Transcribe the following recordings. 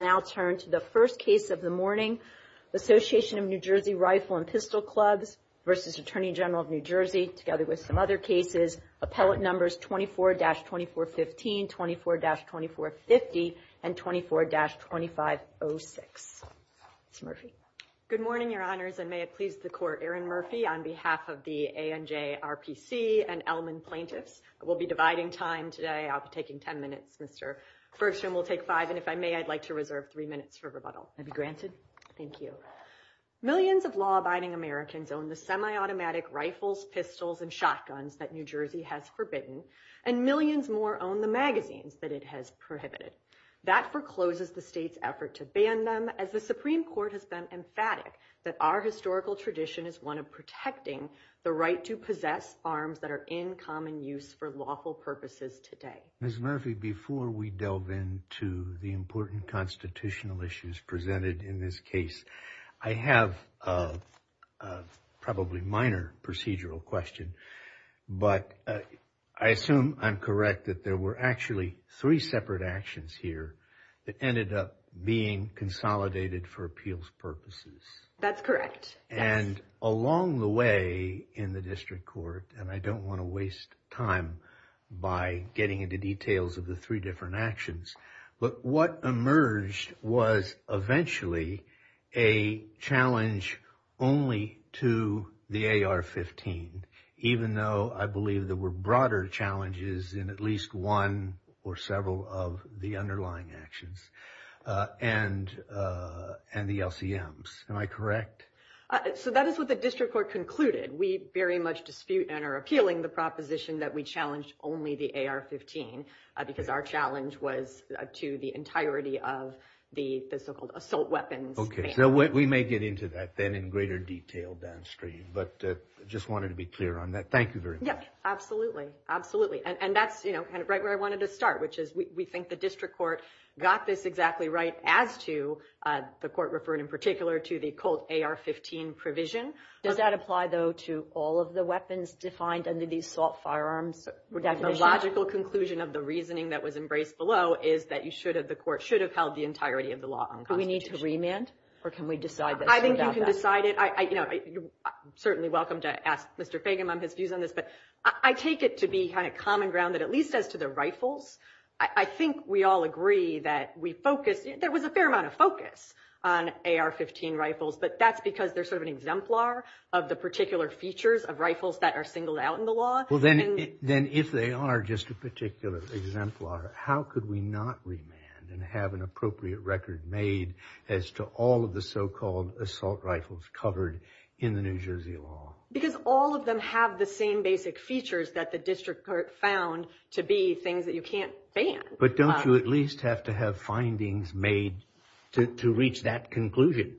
Now turn to the first case of the morning, Association of New Jersey Rifle and Pistol Clubs v. Attorney General of New Jersey, together with some other cases, appellate numbers 24-2415, 24-2450, and 24-2506. Ms. Murphy. Good morning, Your Honors, and may it please the Court, Erin Murphy on behalf of the ANJ RPC and Ellman plaintiffs. We'll be dividing time today. I'll be taking ten minutes, Mr. Bergstrom will take five. And if I may, I'd like to reserve three minutes for rebuttal. I'd be granted. Thank you. Millions of law-abiding Americans own the semi-automatic rifles, pistols, and shotguns that New Jersey has forbidden, and millions more own the magazines that it has prohibited. That forecloses the state's effort to ban them, as the Supreme Court has been emphatic that our historical tradition is one of protecting the right to possess arms that are in common use for lawful purposes today. Ms. Murphy, before we delve into the important constitutional issues presented in this case, I have a probably minor procedural question, but I assume I'm correct that there were actually three separate actions here that ended up being consolidated for appeals purposes. That's correct. And along the way in the district court, and I don't want to waste time by getting into details of the three different actions, but what emerged was eventually a challenge only to the AR-15, even though I believe there were broader challenges in at least one or several of the underlying actions, and the LCMs. Am I correct? So that is what the district court concluded. We very much dispute and are appealing the proposition that we challenged only the AR-15, because our challenge was to the entirety of the so-called assault weapons ban. Okay, so we may get into that then in greater detail downstream, but just wanted to be clear on that. Thank you very much. Yep, absolutely, absolutely. And that's right where I wanted to start, which is we think the district court got this exactly right as to the court referred in particular to the COLT AR-15 provision. Does that apply, though, to all of the weapons defined under the assault firearms definition? The logical conclusion of the reasoning that was embraced below is that the court should have held the entirety of the law unconstitutional. Do we need to remand, or can we decide that? I think you can decide it. You're certainly welcome to ask Mr. Fagin on his views on this, but I take it to be kind of common ground that at least as to the rifles, I think we all agree that we focus. There was a fair amount of focus on AR-15 rifles, but that's because they're sort of an exemplar of the particular features of rifles that are singled out in the law. Well, then if they are just a particular exemplar, how could we not remand and have an appropriate record made as to all of the so-called assault rifles covered in the New Jersey law? Because all of them have the same basic features that the district court found to be things that you can't ban. But don't you at least have to have findings made to reach that conclusion?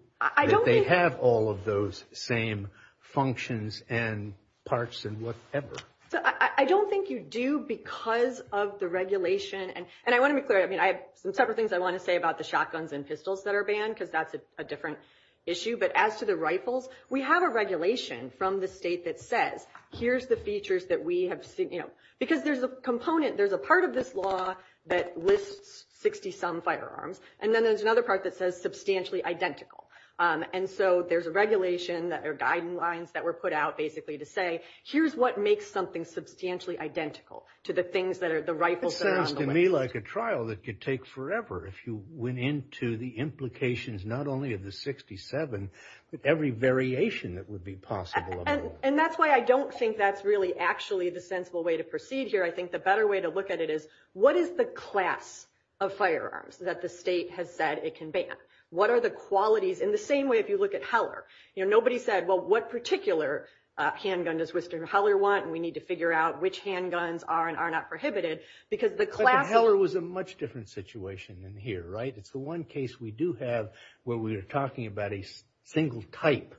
They have all of those same functions and parts and whatever. So I don't think you do because of the regulation. And I want to be clear. I mean, I have some separate things I want to say about the shotguns and pistols that are banned because that's a different issue. But as to the rifles, we have a regulation from the state that says, here's the features that we have seen, you know, because there's a component. There's a part of this law that lists 60-some firearms. And then there's another part that says substantially identical. And so there's a regulation that are guiding lines that were put out basically to say, here's what makes something substantially identical to the things that are the rifles that are on the list. It sounds to me like a trial that could take forever if you went into the implications not only of the 67, but every variation that would be possible. And that's why I don't think that's really actually the sensible way to proceed here. I think the better way to look at it is, what is the class of firearms that the state has said it can ban? What are the qualities? In the same way, if you look at Heller, you know, nobody said, well, what particular handgun does Mr. Heller want? And we need to figure out which handguns are and are not prohibited because the class. But Heller was a much different situation than here, right? It's the one case we do have where we are talking about a single type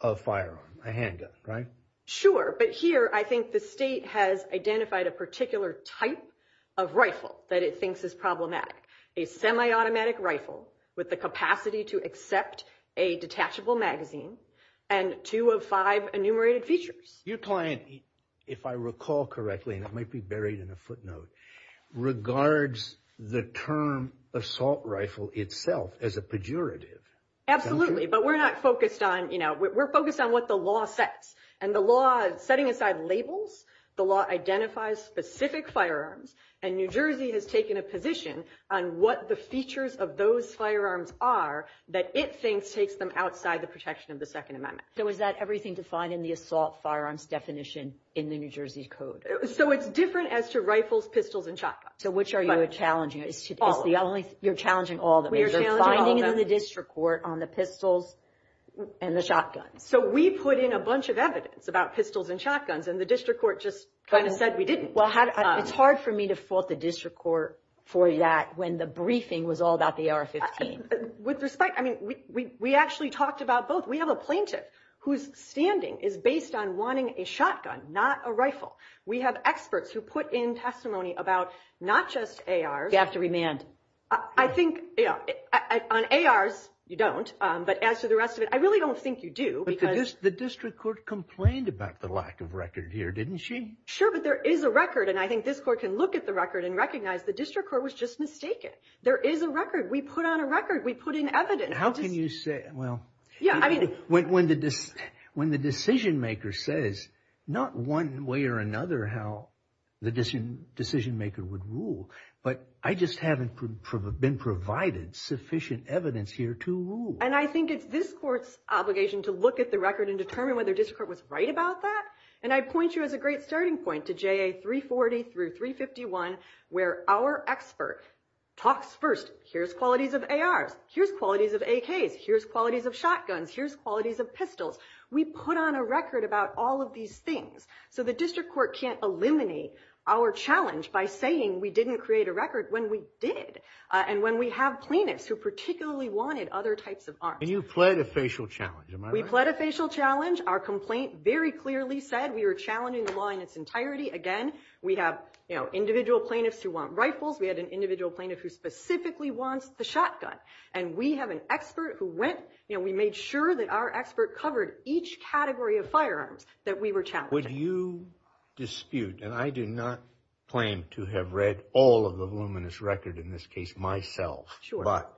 of firearm, a handgun, right? Sure. But here, I think the state has identified a particular type of rifle that it thinks is problematic. A semi-automatic rifle with the capacity to accept a detachable magazine and two of five enumerated features. Your client, if I recall correctly, and it might be buried in a footnote, regards the term assault rifle itself as a pejorative. Absolutely. But we're not focused on, you know, we're focused on what the law says. And the law, setting aside labels, the law identifies specific firearms. And New Jersey has taken a position on what the features of those firearms are that it thinks takes them outside the protection of the Second Amendment. So is that everything defined in the assault firearms definition in the New Jersey Code? So it's different as to rifles, pistols, and shotguns. So which are you challenging? It's the only, you're challenging all of them. We are challenging all of them. They're finding it in the district court on the pistols and the shotguns. So we put in a bunch of evidence about pistols and shotguns, and the district court just kind of said we didn't. Well, it's hard for me to fault the district court for that when the briefing was all about the AR-15. With respect, I mean, we actually talked about both. We have a plaintiff whose standing is based on wanting a shotgun, not a rifle. We have experts who put in testimony about not just ARs. You have to remand. I think, you know, on ARs, you don't. But as to the rest of it, I really don't think you do. But the district court complained about the lack of record here, didn't she? Sure, but there is a record. And I think this court can look at the record and recognize the district court was just mistaken. There is a record. We put on a record. We put in evidence. How can you say, well, when the decision maker says, not one way or another how the decision maker would rule. But I just haven't been provided sufficient evidence here to rule. And I think it's this court's obligation to look at the record and determine whether district court was right about that. And I point you as a great starting point to JA 340 through 351, where our expert talks first. Here's qualities of ARs. Here's qualities of AKs. Here's qualities of shotguns. Here's qualities of pistols. We put on a record about all of these things. So the district court can't eliminate our challenge by saying we didn't create a record when we did. And when we have plaintiffs who particularly wanted other types of arms. And you pled a facial challenge, am I right? We pled a facial challenge. Our complaint very clearly said we were challenging the law in its entirety. Again, we have individual plaintiffs who want rifles. We had an individual plaintiff who specifically wants the shotgun. And we have an expert who went, we made sure that our expert covered each category of firearms that we were challenging. Would you dispute, and I do not claim to have read all of the voluminous record in this case myself. But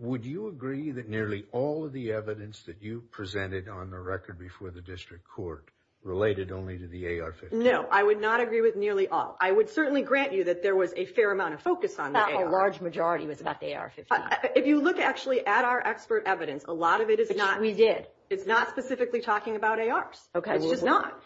would you agree that nearly all of the evidence that you presented on the record before the district court related only to the AR-15? No, I would not agree with nearly all. I would certainly grant you that there was a fair amount of focus on the AR-15. Not a large majority was about the AR-15. If you look actually at our expert evidence, a lot of it is not. We did. It's not specifically talking about ARs. It's just not.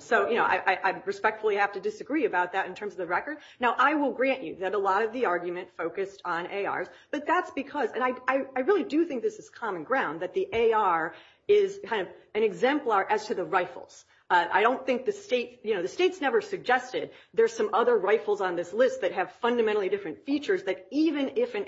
So I respectfully have to disagree about that in terms of the record. Now, I will grant you that a lot of the argument focused on ARs. But that's because, and I really do think this is common ground, that the AR is kind of an exemplar as to the rifles. I don't think the state, you know, the state's never suggested there's some other rifles on this list that have fundamentally different features that even if an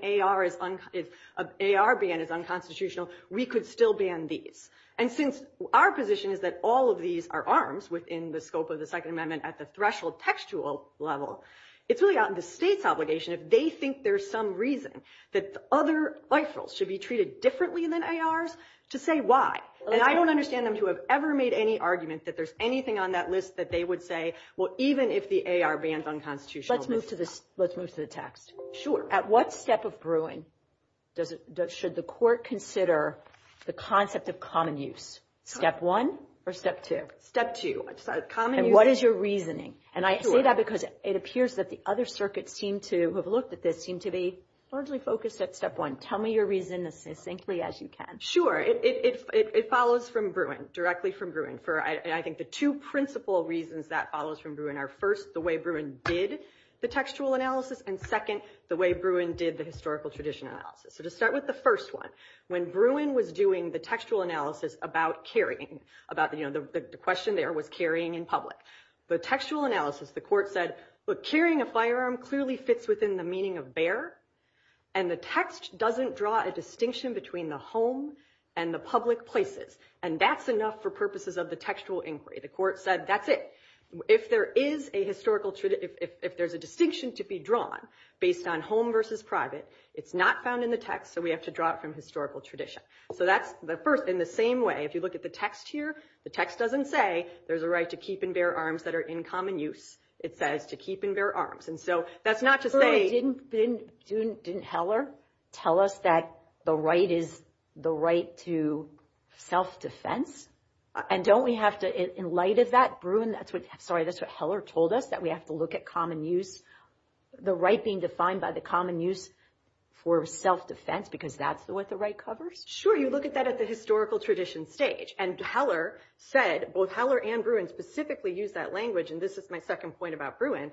AR ban is unconstitutional, we could still ban these. And since our position is that all of these are arms within the scope of the Second Amendment at the threshold textual level, it's really out in the state's obligation if they think there's some reason that other rifles should be treated differently than ARs to say why. And I don't understand them to have ever made any argument that there's anything on that list that they would say, well, even if the AR bans unconstitutional. Let's move to the, let's move to the text. At what step of Bruin does, should the court consider the concept of common use? Step one or step two? Step two, common use. And what is your reasoning? And I say that because it appears that the other circuits seem to have looked at this, seem to be largely focused at step one. Tell me your reason as succinctly as you can. Sure, it follows from Bruin, directly from Bruin. For I think the two principal reasons that follows from Bruin are first, the way Bruin did the textual analysis, and second, the way Bruin did the historical tradition analysis. So to start with the first one, when Bruin was doing the textual analysis about carrying, about the question there was carrying in public. The textual analysis, the court said, look, carrying a firearm clearly fits within the meaning of bear. And the text doesn't draw a distinction between the home and the public places. And that's enough for purposes of the textual inquiry. The court said, that's it. If there is a historical, if there's a distinction to be drawn based on home versus private, it's not found in the text, so we have to draw it from historical tradition. So that's the first, in the same way, if you look at the text here, the text doesn't say there's a right to keep and bear arms that are in common use. It says to keep and bear arms. And so that's not to say... Didn't Heller tell us that the right is the right to self-defense? And don't we have to, in light of that, Bruin, that's what, sorry, that's what Heller told us, that we have to look at common use, the right being defined by the common use for self-defense, because that's what the right covers? Sure, you look at that at the historical tradition stage. And Heller said, both Heller and Bruin specifically used that language, and this is my second point about Bruin.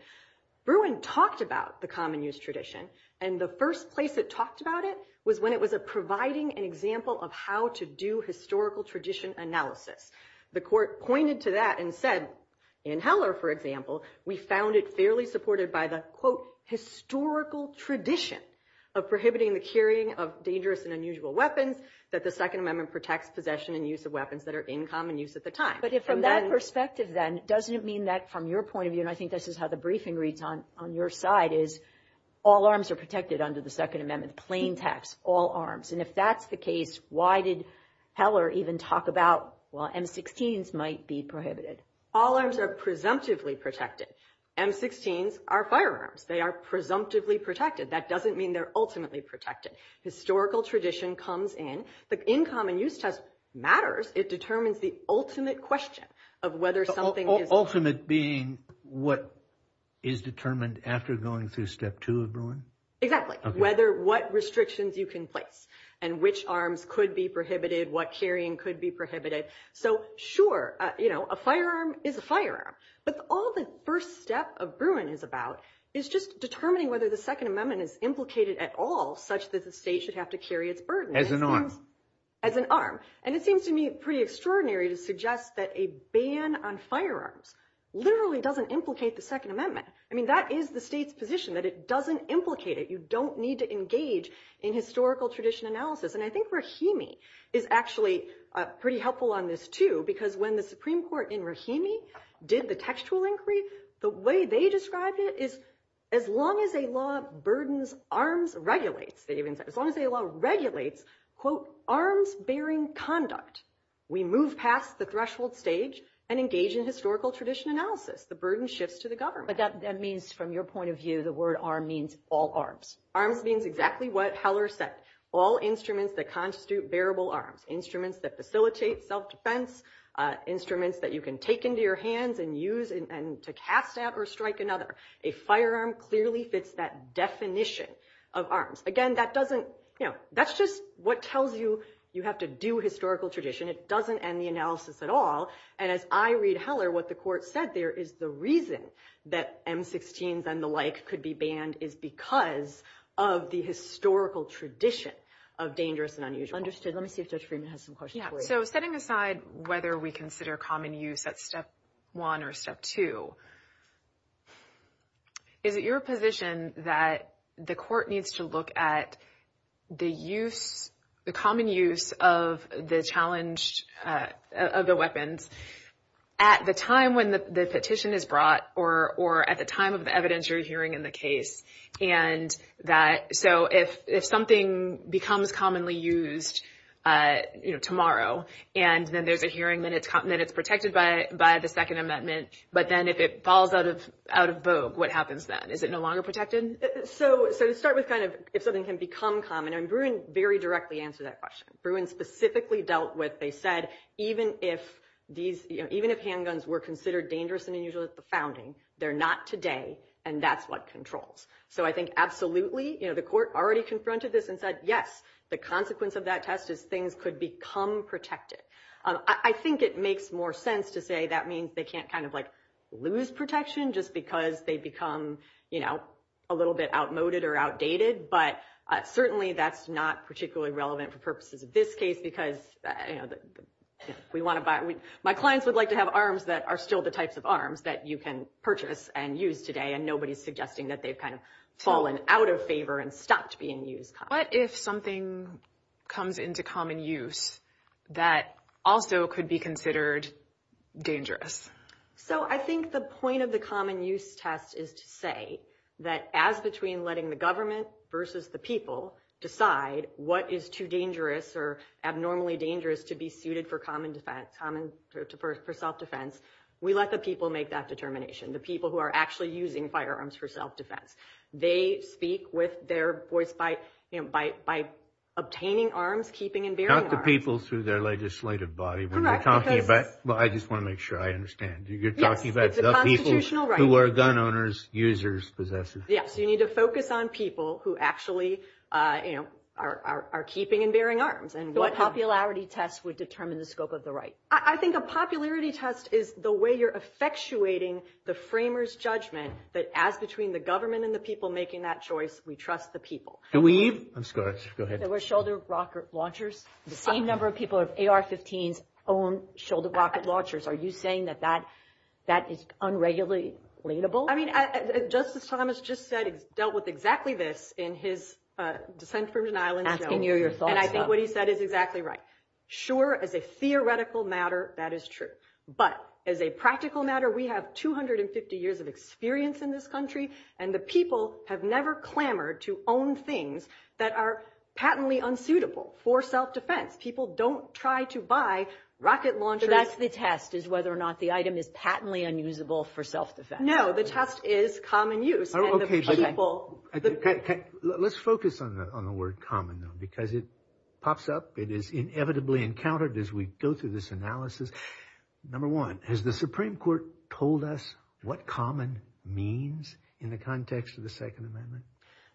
Bruin talked about the common use tradition, and the first place it talked about it was when it was providing an example of how to do historical tradition analysis. The court pointed to that and said, in Heller, for example, we found it fairly supported by the, quote, historical tradition of prohibiting the carrying of dangerous and unusual weapons, that the Second Amendment protects possession and use of weapons that are in common use at the time. But from that perspective, then, doesn't it mean that, from your point of view, and I think this is how the briefing reads on your side, is all arms are protected under the Second Amendment, plain text, all arms. And if that's the case, why did Heller even talk about, well, M16s might be prohibited? All arms are presumptively protected. M16s are firearms. They are presumptively protected. That doesn't mean they're ultimately protected. Historical tradition comes in. The in common use test matters. It determines the ultimate question of whether something is- Ultimate being what is determined after going through step two of Bruin? Exactly. Whether what restrictions you can place, and which arms could be prohibited, what carrying could be prohibited. So, sure, a firearm is a firearm. But all the first step of Bruin is about is just determining whether the Second Amendment is implicated at all, such that the state should have to carry its burden. As an arm. As an arm. And it seems to me pretty extraordinary to suggest that a ban on firearms literally doesn't implicate the Second Amendment. I mean, that is the state's position, that it doesn't implicate it. You don't need to engage in historical tradition analysis. And I think Rahimi is actually pretty helpful on this, too. Because when the Supreme Court in Rahimi did the textual inquiry, the way they described it is, as long as a law burdens arms, regulates. As long as a law regulates, quote, arms bearing conduct, we move past the threshold stage and engage in historical tradition analysis. The burden shifts to the government. But that means, from your point of view, the word arm means all arms. Arms means exactly what Heller said. All instruments that constitute bearable arms. Instruments that facilitate self-defense. Instruments that you can take into your hands and use to cast at or strike another. A firearm clearly fits that definition of arms. Again, that doesn't, you know, that's just what tells you you have to do historical tradition. It doesn't end the analysis at all. And as I read Heller, what the court said there is the reason that M-16s and the like could be banned is because of the historical tradition of dangerous and unusual. Understood. Let me see if Judge Freeman has some questions for you. So, setting aside whether we consider common use at step one or step two, is it your position that the court needs to look at the use, the common use of the challenged, of the weapons at the time when the petition is brought or at the time of the evidence you're hearing in the case? And that, so if something becomes commonly used, you know, tomorrow, and then there's a hearing, then it's protected by the second amendment. But then if it falls out of vogue, what happens then? Is it no longer protected? So, to start with, kind of, if something can become common, and Bruin very directly answered that question. Bruin specifically dealt with, they said, even if these, you know, even if handguns were considered dangerous and unusual at the founding, they're not today. And that's what controls. So, I think, absolutely, you know, the court already confronted this and said, yes, the consequence of that test is things could become protected. I think it makes more sense to say that means they can't, kind of, like, lose protection just because they become, you know, a little bit outmoded or outdated. But certainly that's not particularly relevant for purposes of this case because, you know, we want to buy, my clients would like to have arms that are still the types of arms that you can purchase and use today. And nobody's suggesting that they've, kind of, fallen out of favor and stopped being used. What if something comes into common use that also could be considered dangerous? So, I think the point of the common use test is to say that as between letting the government versus the people decide what is too dangerous or abnormally dangerous to be suited for common defense. Common for self-defense. We let the people make that determination. The people who are actually using firearms for self-defense. They speak with their voice by, you know, by obtaining arms, keeping and bearing arms. Talk to people through their legislative body when you're talking about, well, I just want to make sure I understand. You're talking about the people who are gun owners, users, possessors. Yes, you need to focus on people who actually, you know, are keeping and bearing arms. And what popularity test would determine the scope of the right? I think a popularity test is the way you're effectuating the framers' judgment that as between the government and the people making that choice, we trust the people. Can we even, I'm sorry, go ahead. There were shoulder rocket launchers. The same number of people have AR-15s own shoulder rocket launchers. Are you saying that that is unregulatedly relatable? I mean, Justice Thomas just said he's dealt with exactly this in his Dissent from Denial in the Show. Asking you your thoughts on it. And I think what he said is exactly right. Sure, as a theoretical matter, that is true. But as a practical matter, we have 250 years of experience in this country. And the people have never clamored to own things that are patently unsuitable for self-defense. People don't try to buy rocket launchers. So that's the test, is whether or not the item is patently unusable for self-defense. No, the test is common use. And the people. Let's focus on the word common, though. Because it pops up. It is inevitably encountered as we go through this analysis. Number one, has the Supreme Court told us what common means in the context of the Second Amendment?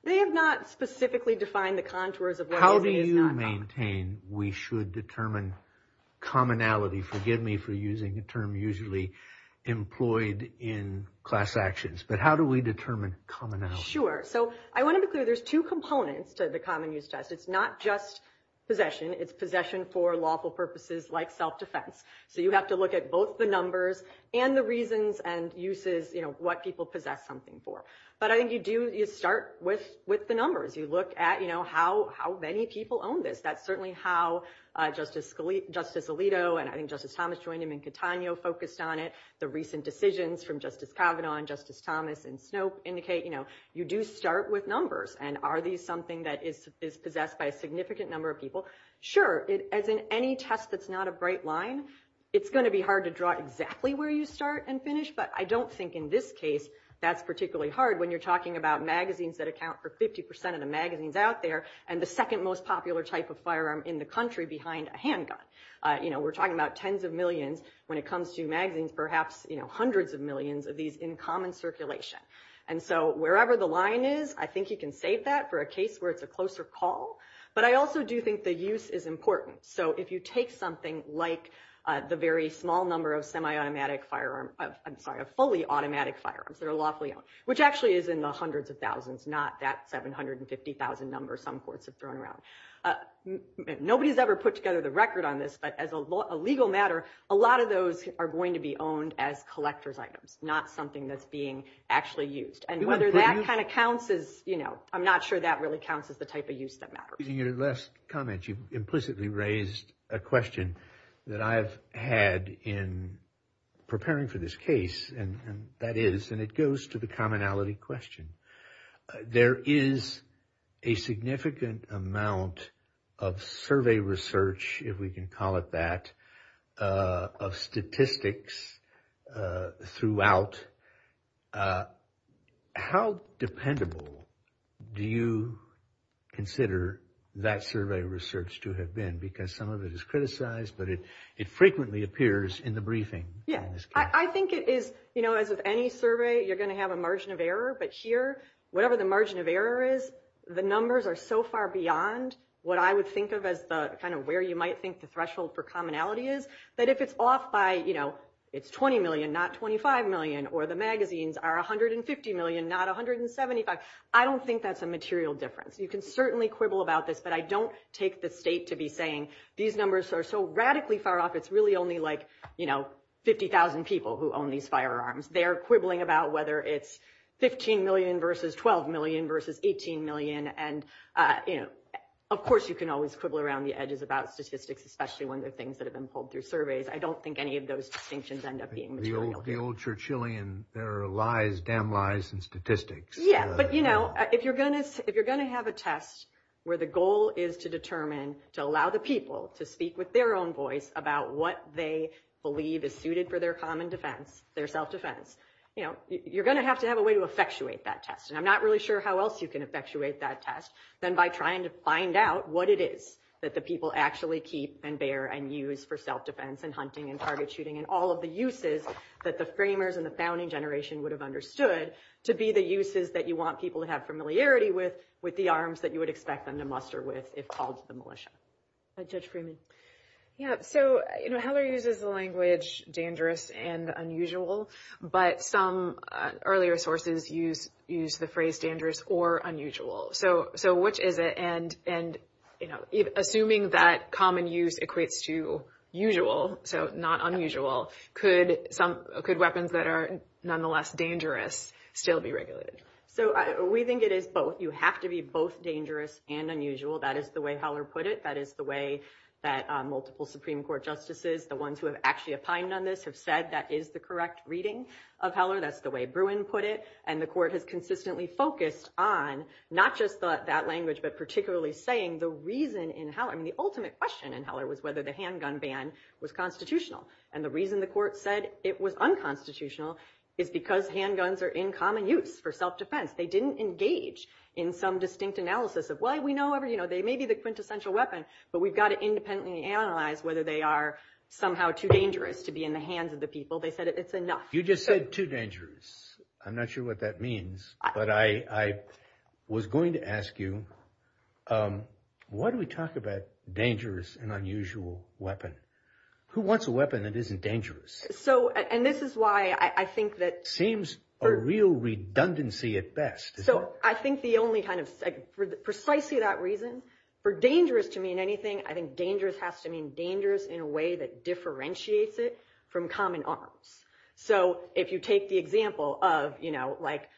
They have not specifically defined the contours of what is and is not common. How do you maintain we should determine commonality? Forgive me for using a term usually employed in class actions. But how do we determine commonality? Sure. So I want to be clear. There's two components to the common use test. It's not just possession. It's possession for lawful purposes like self-defense. So you have to look at both the numbers and the reasons and uses, you know, what people possess something for. But I think you do start with the numbers. You look at, you know, how many people own this. That's certainly how Justice Alito and I think Justice Thomas joined him and Catano focused on it. The recent decisions from Justice Kavanaugh and Justice Thomas and Snope indicate, you know, you do start with numbers. And are these something that is possessed by a significant number of people? Sure. As in any test that's not a bright line, it's going to be hard to draw exactly where you start and finish. But I don't think in this case that's particularly hard when you're talking about magazines that account for 50 percent of the magazines out there and the second most popular type of firearm in the country behind a handgun. You know, we're talking about tens of millions. When it comes to magazines, perhaps, you know, hundreds of millions of these in common circulation. And so wherever the line is, I think you can save that for a case where it's a closer call. But I also do think the use is important. So if you take something like the very small number of semi-automatic firearm, I'm sorry, of fully automatic firearms that are lawfully owned, which actually is in the hundreds of thousands, not that 750,000 number some courts have thrown around. Nobody's ever put together the record on this. But as a legal matter, a lot of those are going to be owned as collector's items, not something that's being actually used. And whether that kind of counts is, you know, I'm not sure that really counts as the type of use that matters. In your last comment, you implicitly raised a question that I've had in preparing for this case. And that is, and it goes to the commonality question. There is a significant amount of survey research, if we can call it that, of statistics throughout. How dependable do you consider that survey research to have been? Because some of it is criticized, but it frequently appears in the briefing. Yeah, I think it is, you know, as with any survey, you're going to have a margin of error. But here, whatever the margin of error is, the numbers are so far beyond what I would think of as the kind of where you might think the threshold for commonality is. That if it's off by, you know, it's 20 million, not 25 million, or the magazines are 150 million, not 175, I don't think that's a material difference. You can certainly quibble about this, but I don't take the state to be saying these numbers are so radically far off. It's really only like, you know, 50,000 people who own these firearms. They're quibbling about whether it's 15 million versus 12 million versus 18 million. And, you know, of course, you can always quibble around the edges about statistics, especially when they're things that have been pulled through surveys. I don't think any of those distinctions end up being material. The old Churchillian, there are lies, damn lies, and statistics. Yeah, but, you know, if you're going to have a test where the goal is to determine to allow the people to speak with their own voice about what they believe is suited for their common defense, their self-defense, you know, you're going to have to have a way to effectuate that test. And I'm not really sure how else you can effectuate that test than by trying to find out what it is that the people actually keep and bear and use for self-defense and hunting and target shooting and all of the uses that the framers and the founding generation would have understood to be the uses that you want people to have familiarity with, with the arms that you would expect them to muster with if called to the militia. Judge Freeman. Yeah, so, you know, Heller uses the language dangerous and unusual, but some earlier sources use the phrase dangerous or unusual. So which is it? And, you know, assuming that common use equates to usual, so not unusual, could weapons that are nonetheless dangerous still be regulated? So we think it is both. You have to be both dangerous and unusual. That is the way Heller put it. That is the way that multiple Supreme Court justices, the ones who have actually opined on this, have said that is the correct reading of Heller. That's the way Bruin put it. And the court has consistently focused on not just that language, but particularly saying the reason in Heller, I mean, the ultimate question in Heller was whether the handgun ban was constitutional. And the reason the court said it was unconstitutional is because handguns are in common use for self-defense. They didn't engage in some distinct analysis of, well, we know they may be the quintessential weapon, but we've got to independently analyze whether they are somehow too dangerous to be in the hands of the people. They said it's enough. You just said too dangerous. I'm not sure what that means, but I was going to ask you, why do we talk about dangerous and unusual weapon? Who wants a weapon that isn't dangerous? So, and this is why I think that... Seems a real redundancy at best. So I think the only kind of, for precisely that reason, for dangerous to mean anything, I think dangerous has to mean dangerous in a way that differentiates it from common arms. So if you take the example of, you know, like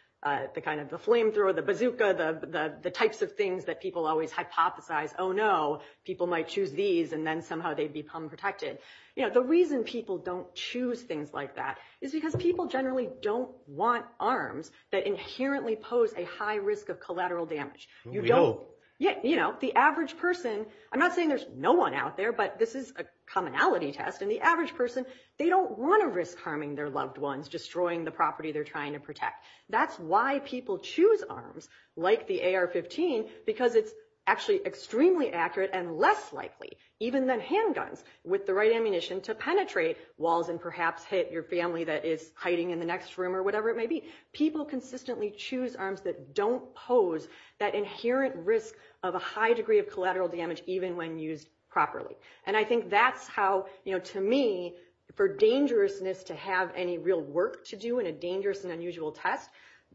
the kind of the flamethrower, the bazooka, the types of things that people always hypothesize, oh, no, people might choose these, and then somehow they become protected. You know, the reason people don't choose things like that is because people generally don't want arms that inherently pose a high risk of collateral damage. You don't, you know, the average person, I'm not saying there's no one out there, but this is a commonality test, and the average person, they don't want to risk harming their loved ones, destroying the property they're trying to protect. That's why people choose arms like the AR-15, because it's actually extremely accurate and less likely, even than handguns, with the right ammunition to penetrate walls and perhaps hit your family that is hiding in the next room or whatever it may be. People consistently choose arms that don't pose that inherent risk of a high degree of collateral damage, even when used properly. And I think that's how, you know, to me, for dangerousness to have any real work to do in a dangerous and unusual test,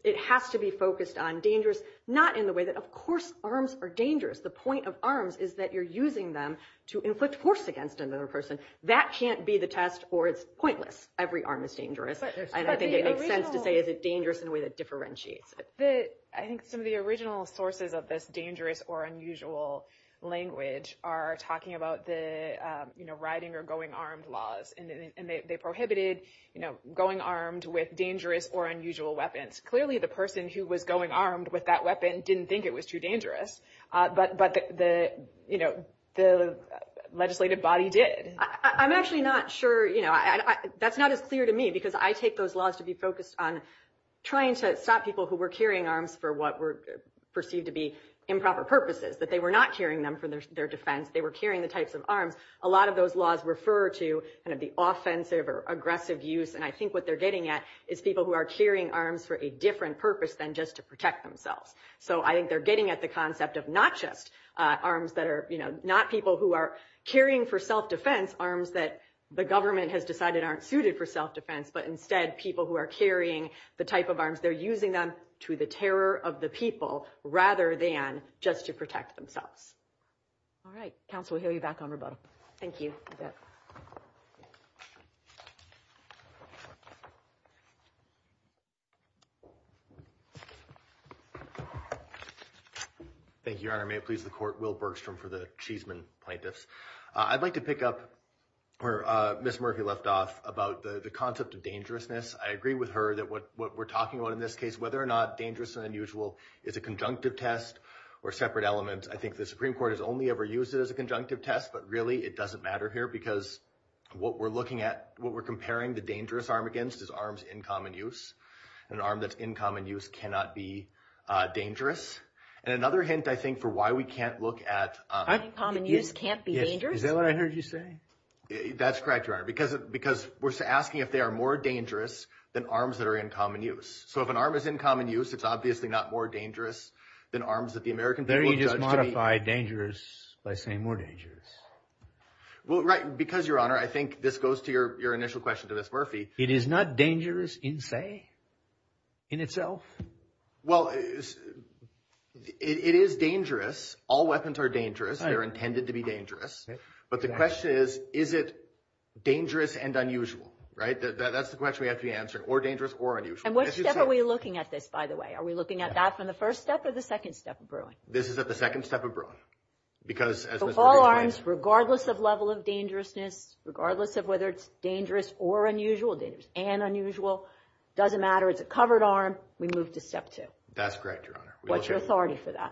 it has to be focused on dangerous, not in the way that, of course, arms are dangerous. The point of arms is that you're using them to inflict force against another person. That can't be the test, or it's pointless. Every arm is dangerous, and I think it makes sense to say, is it dangerous in a way that differentiates it. I think some of the original sources of this dangerous or unusual language are talking about the, you know, riding or going armed laws, and they prohibited, you know, going armed with dangerous or unusual weapons. Clearly, the person who was going armed with that weapon didn't think it was too dangerous. But the, you know, the legislative body did. I'm actually not sure, you know, that's not as clear to me, because I take those laws to be focused on trying to stop people who were carrying arms for what were perceived to be improper purposes, that they were not carrying them for their defense. They were carrying the types of arms. A lot of those laws refer to kind of the offensive or aggressive use, and I think what they're getting at is people who are carrying arms for a different purpose than just to protect themselves. So I think they're getting at the concept of not just arms that are, you know, not people who are carrying for self-defense, arms that the government has decided aren't suited for self-defense, but instead people who are carrying the type of arms. They're using them to the terror of the people rather than just to protect themselves. All right. Counsel, we'll hear you back on rebuttal. Thank you. Thank you, Your Honor. May it please the court, Will Bergstrom for the Cheeseman Plaintiffs. I'd like to pick up where Ms. Murphy left off about the concept of dangerousness. I agree with her that what we're talking about in this case, whether or not dangerous and unusual is a conjunctive test or separate element. I think the Supreme Court has only ever used it as a conjunctive test, but really it doesn't matter here because what we're looking at, what we're comparing the dangerous arm against is arms in common use. An arm that's in common use cannot be dangerous. And another hint, I think, for why we can't look at— Common use can't be dangerous? Is that what I heard you say? That's correct, Your Honor, because we're asking if they are more dangerous than arms that are in common use. So if an arm is in common use, it's obviously not more dangerous than arms that the American people— Or you just modify dangerous by saying more dangerous. Well, right, because, Your Honor, I think this goes to your initial question to Ms. Murphy. It is not dangerous in say, in itself? Well, it is dangerous. All weapons are dangerous. They're intended to be dangerous. But the question is, is it dangerous and unusual, right? That's the question we have to be answering, or dangerous or unusual. And which step are we looking at this, by the way? Are we looking at that from the first step or the second step of Bruin? This is at the second step of Bruin, because— So all arms, regardless of level of dangerousness, regardless of whether it's dangerous or unusual, dangerous and unusual, doesn't matter. It's a covered arm. We move to step two. That's correct, Your Honor. What's your authority for that?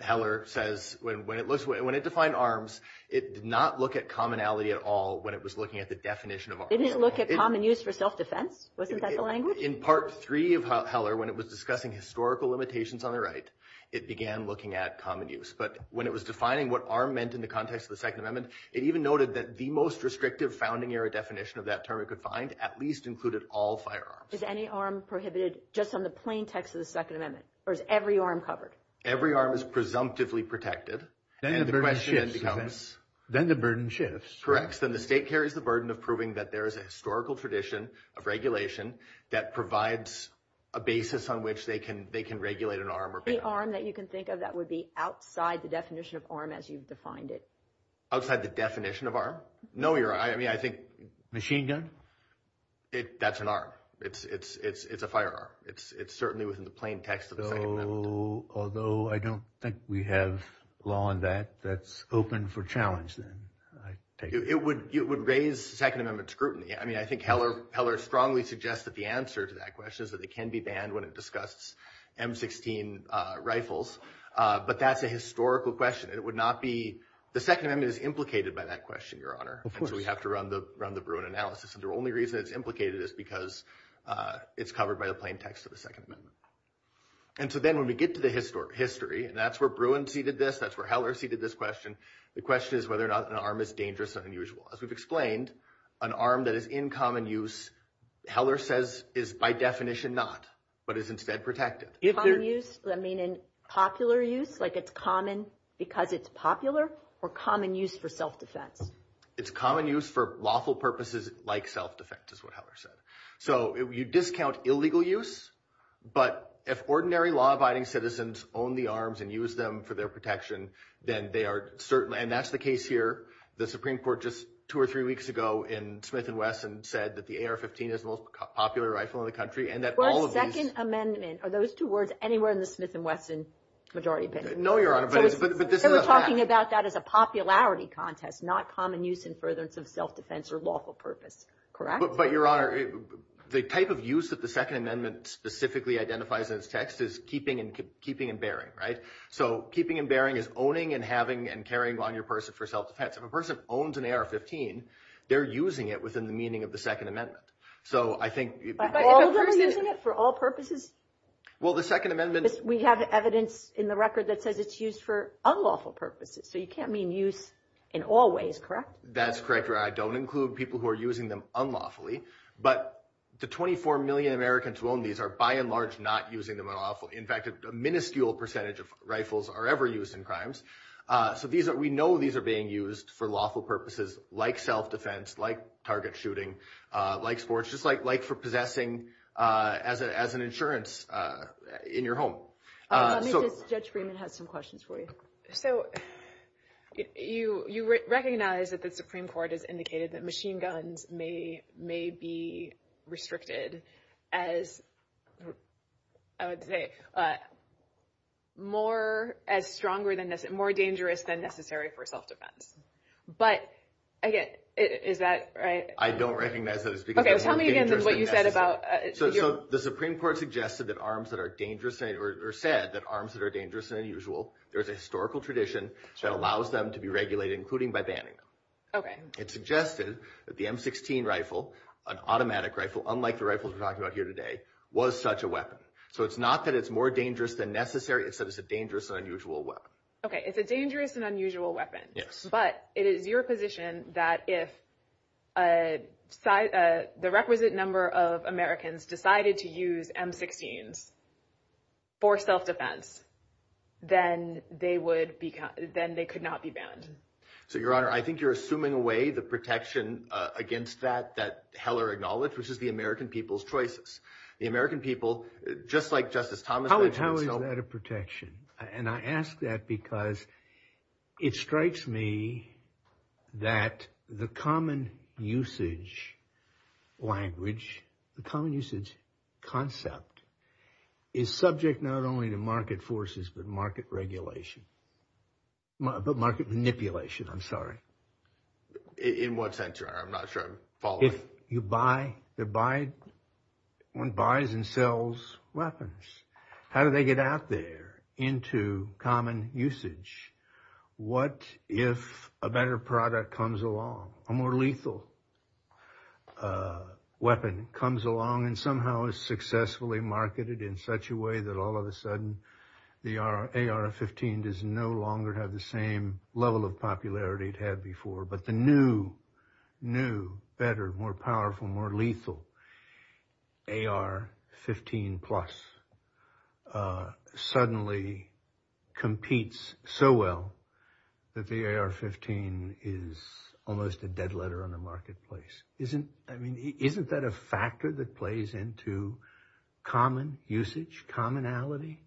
Heller says when it defined arms, it did not look at commonality at all when it was looking at the definition of arms. It didn't look at common use for self-defense? Wasn't that the language? In part three of Heller, when it was discussing historical limitations on the right, it began looking at common use. But when it was defining what arm meant in the context of the Second Amendment, it even noted that the most restrictive founding-era definition of that term it could find at least included all firearms. Is any arm prohibited just on the plaintext of the Second Amendment? Or is every arm covered? Every arm is presumptively protected. Then the burden shifts. Correct. Then the state carries the burden of proving that there is a historical tradition of regulation that provides a basis on which they can regulate an arm. The arm that you can think of that would be outside the definition of arm as you've defined it? Outside the definition of arm? No, Your Honor. I mean, I think... Machine gun? That's an arm. It's a firearm. It's certainly within the plaintext of the Second Amendment. Although I don't think we have law on that, that's open for challenge, then. It would raise Second Amendment scrutiny. I mean, I think Heller strongly suggests that the answer to that question is that it can be banned when it discusses M16 rifles, but that's a historical question. It would not be... The Second Amendment is implicated by that question, Your Honor. Of course. And so we have to run the Bruin analysis. And the only reason it's implicated is because it's covered by the plaintext of the Second Amendment. And so then when we get to the history, and that's where Bruin ceded this, that's where Heller ceded this question, the question is whether or not an arm is dangerous or unusual. As we've explained, an arm that is in common use, Heller says, is by definition not, but is instead protected. Common use? I mean, in popular use? Like it's common because it's popular, or common use for self-defense? It's common use for lawful purposes like self-defense, is what Heller said. So you discount illegal use, but if ordinary law-abiding citizens own the arms and use them for their protection, then they are certainly... And that's the case here. The Supreme Court just two or three weeks ago in Smith & Wesson said that the AR-15 is the most popular rifle in the country, and that all of these... For a Second Amendment, are those two words anywhere in the Smith & Wesson majority opinion? No, Your Honor, but this is a fact. They were talking about that as a popularity contest, not common use in furtherance of self-defense or lawful purpose, correct? But, Your Honor, the type of use that the Second Amendment specifically identifies in its text is keeping and bearing, right? So keeping and bearing is owning and having and carrying on your person for self-defense. If a person owns an AR-15, they're using it within the meaning of the Second Amendment. So I think... But all of them are using it for all purposes? Well, the Second Amendment... We have evidence in the record that says it's used for unlawful purposes. So you can't mean use in all ways, correct? That's correct, Your Honor. I don't include people who are using them unlawfully. But the 24 million Americans who own these are by and large not using them unlawfully. In fact, a minuscule percentage of rifles are ever used in crimes. So we know these are being used for lawful purposes, like self-defense, like target shooting, like sports, just like for possessing as an insurance in your home. Let me just... Judge Freeman has some questions for you. So you recognize that the Supreme Court has indicated that machine guns may be restricted as, I would say, more as stronger than, more dangerous than necessary for self-defense. But again, is that right? I don't recognize that it's because... Okay, tell me again what you said about... So the Supreme Court suggested that arms that are dangerous or said that arms that are dangerous are unusual. There's a historical tradition that allows them to be regulated, including by banning them. It suggested that the M16 rifle, an automatic rifle, unlike the rifles we're talking about here today, was such a weapon. So it's not that it's more dangerous than necessary, it's that it's a dangerous and unusual weapon. Okay, it's a dangerous and unusual weapon. Yes. But it is your position that if the requisite number of Americans decided to use M16s for self-defense, then they could not be banned. So, Your Honor, I think you're assuming away the protection against that that Heller acknowledged, which is the American people's choices. The American people, just like Justice Thomas... How is that a protection? And I ask that because it strikes me that the common usage language, the common usage concept, is subject not only to market forces, but market regulation. But market manipulation, I'm sorry. In what sense, Your Honor? I'm not sure I'm following. If you buy... If one buys and sells weapons, how do they get out there into common usage? What if a better product comes along? A more lethal weapon comes along and somehow is successfully marketed in such a way that all of a sudden the AR-15 does no longer have the same level of popularity it had before. But the new, new, better, more powerful, more lethal AR-15 plus suddenly competes so well that the AR-15 is almost a dead letter on the marketplace. Isn't that a factor that plays into common usage, commonality?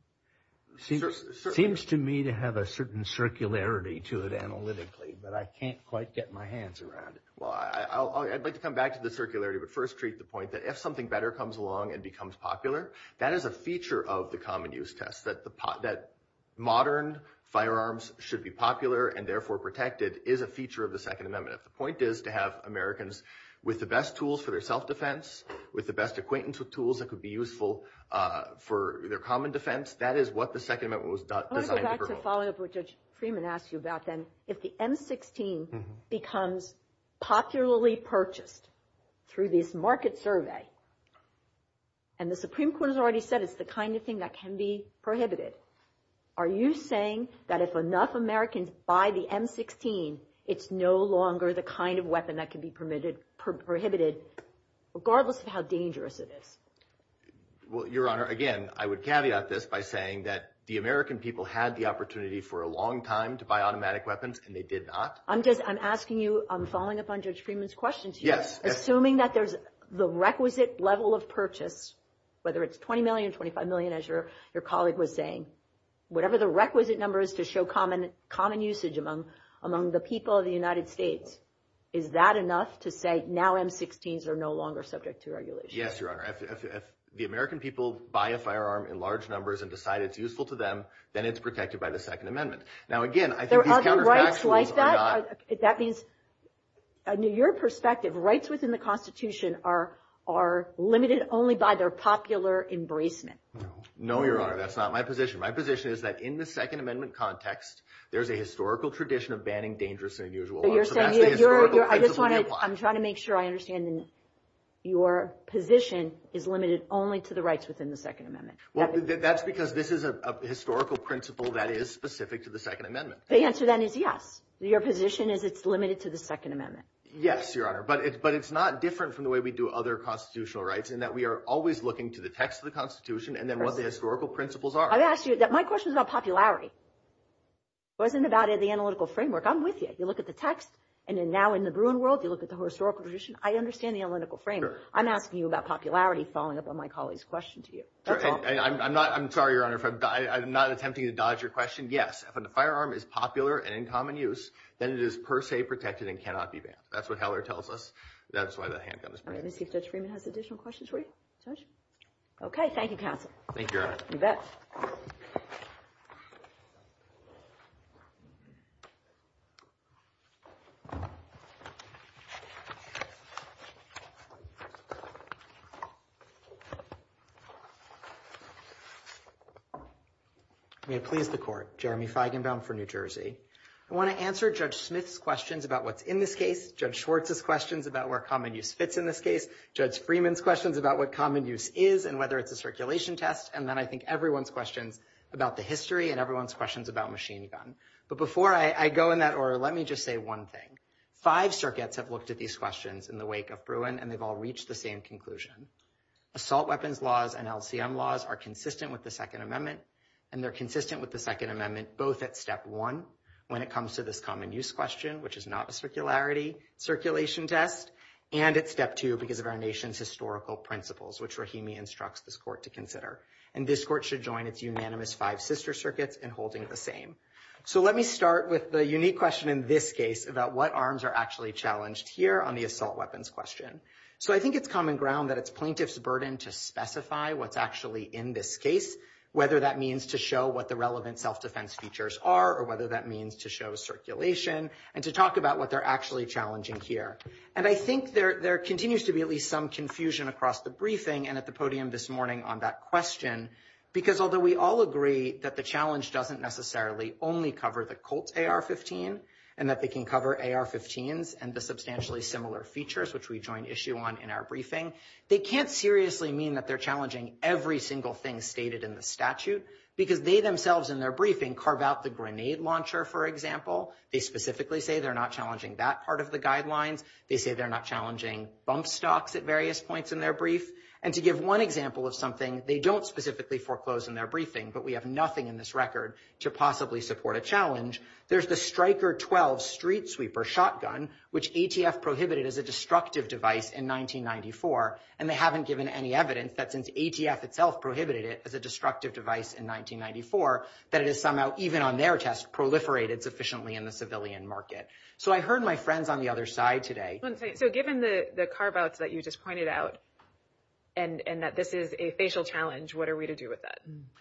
Seems to me to have a certain circularity to it analytically, but I can't quite get my hands around it. Well, I'd like to come back to the circularity, but first treat the point that if something better comes along and becomes popular, that is a feature of the common use test. That modern firearms should be popular and therefore protected is a feature of the Second Amendment. The point is to have Americans with the best tools for their self-defense, with the best acquaintance with tools that could be useful for their common defense. That is what the Second Amendment was designed to promote. I want to go back to following up with what Judge Freeman asked you about then. If the M-16 becomes popularly purchased through this market survey, and the Supreme Court has already said it's the kind of thing that can be prohibited. Are you saying that if enough Americans buy the M-16, it's no longer the kind of weapon that can be prohibited, regardless of how dangerous it is? Well, Your Honor, again, I would caveat this by saying that the American people had the opportunity for a long time to buy automatic weapons and they did not. I'm just, I'm asking you, I'm following up on Judge Freeman's questions. Yes. Assuming that there's the requisite level of purchase, whether it's $20 million, $25 million, as your colleague was saying, whatever the requisite number is to show common usage among the people of the United States. Is that enough to say now M-16s are no longer subject to regulation? Yes, Your Honor. If the American people buy a firearm in large numbers and decide it's useful to them, then it's protected by the Second Amendment. Now, again, I think these counterfactuals are not... Are there rights like that? That means, in your perspective, rights within the Constitution are limited only by their popular embracement. No, Your Honor. That's not my position. My position is that in the Second Amendment context, there's a historical tradition of banning dangerous and unusual. So you're saying that your, I just want to, I'm trying to make sure I understand, your position is limited only to the rights within the Second Amendment. Well, that's because this is a historical principle that is specific to the Second Amendment. The answer then is yes. Your position is it's limited to the Second Amendment. Yes, Your Honor. But it's not different from the way we do other constitutional rights in that we are always looking to the text of the Constitution and then what the historical principles are. I've asked you, my question is about popularity. It wasn't about the analytical framework. I'm with you. You look at the text and then now in the Bruin world, you look at the historical tradition. I understand the analytical framework. I'm asking you about popularity following up on my colleague's question to you. That's all. I'm not, I'm sorry, Your Honor, I'm not attempting to dodge your question. Yes, if a firearm is popular and in common use, then it is per se protected and cannot be banned. That's what Heller tells us. That's why the handgun is banned. Let me see if Judge Freeman has additional questions for you, Judge. Okay. Thank you, counsel. Thank you, Your Honor. You bet. May it please the court. Jeremy Feigenbaum for New Jersey. I want to answer Judge Smith's questions about what's in this case. Judge Schwartz's questions about where common use fits in this case. Judge Freeman's questions about what common use is and whether it's a circulation test. And then I think everyone's questions about the history and everyone's questions about machine gun. But before I go in that order, let me just say one thing. Five circuits have looked at these questions in the wake of Bruin, and they've all reached the same conclusion. Assault weapons laws and LCM laws are consistent with the Second Amendment, and they're consistent with the Second Amendment, both at step one, when it comes to this common use question, which is not a circularity circulation test, and at step two, because of our nation's historical principles, which Rahimi instructs this court to consider. And this court should join its unanimous five sister circuits in holding the same. So let me start with the unique question in this case about what arms are actually challenged here on the assault weapons question. So I think it's common ground that it's plaintiff's burden to specify what's actually in this case, whether that means to show what the relevant self-defense features are or whether that means to show circulation and to talk about what they're actually challenging here. And I think there continues to be at least some confusion across the briefing and at the podium this morning on that question, because although we all agree that the challenge doesn't necessarily only cover the Colt AR-15 and that they can cover AR-15s and the substantially similar features, which we join issue on in our briefing, they can't seriously mean that they're challenging every single thing stated in the statute, because they themselves in their briefing carve out the grenade launcher, for example. They specifically say they're not challenging that part of the guidelines. They say they're not challenging bump stocks at various points in their brief. And to give one example of something they don't specifically foreclose in their briefing, but we have nothing in this record to possibly support a challenge, there's the Stryker 12 street sweeper shotgun, which ATF prohibited as a destructive device in 1994. And they haven't given any evidence that since ATF itself prohibited it as a destructive device in 1994, that it is somehow even on their test proliferated sufficiently in the civilian market. So I heard my friends on the other side today. So given the carve outs that you just pointed out and that this is a facial challenge, what are we to do with that?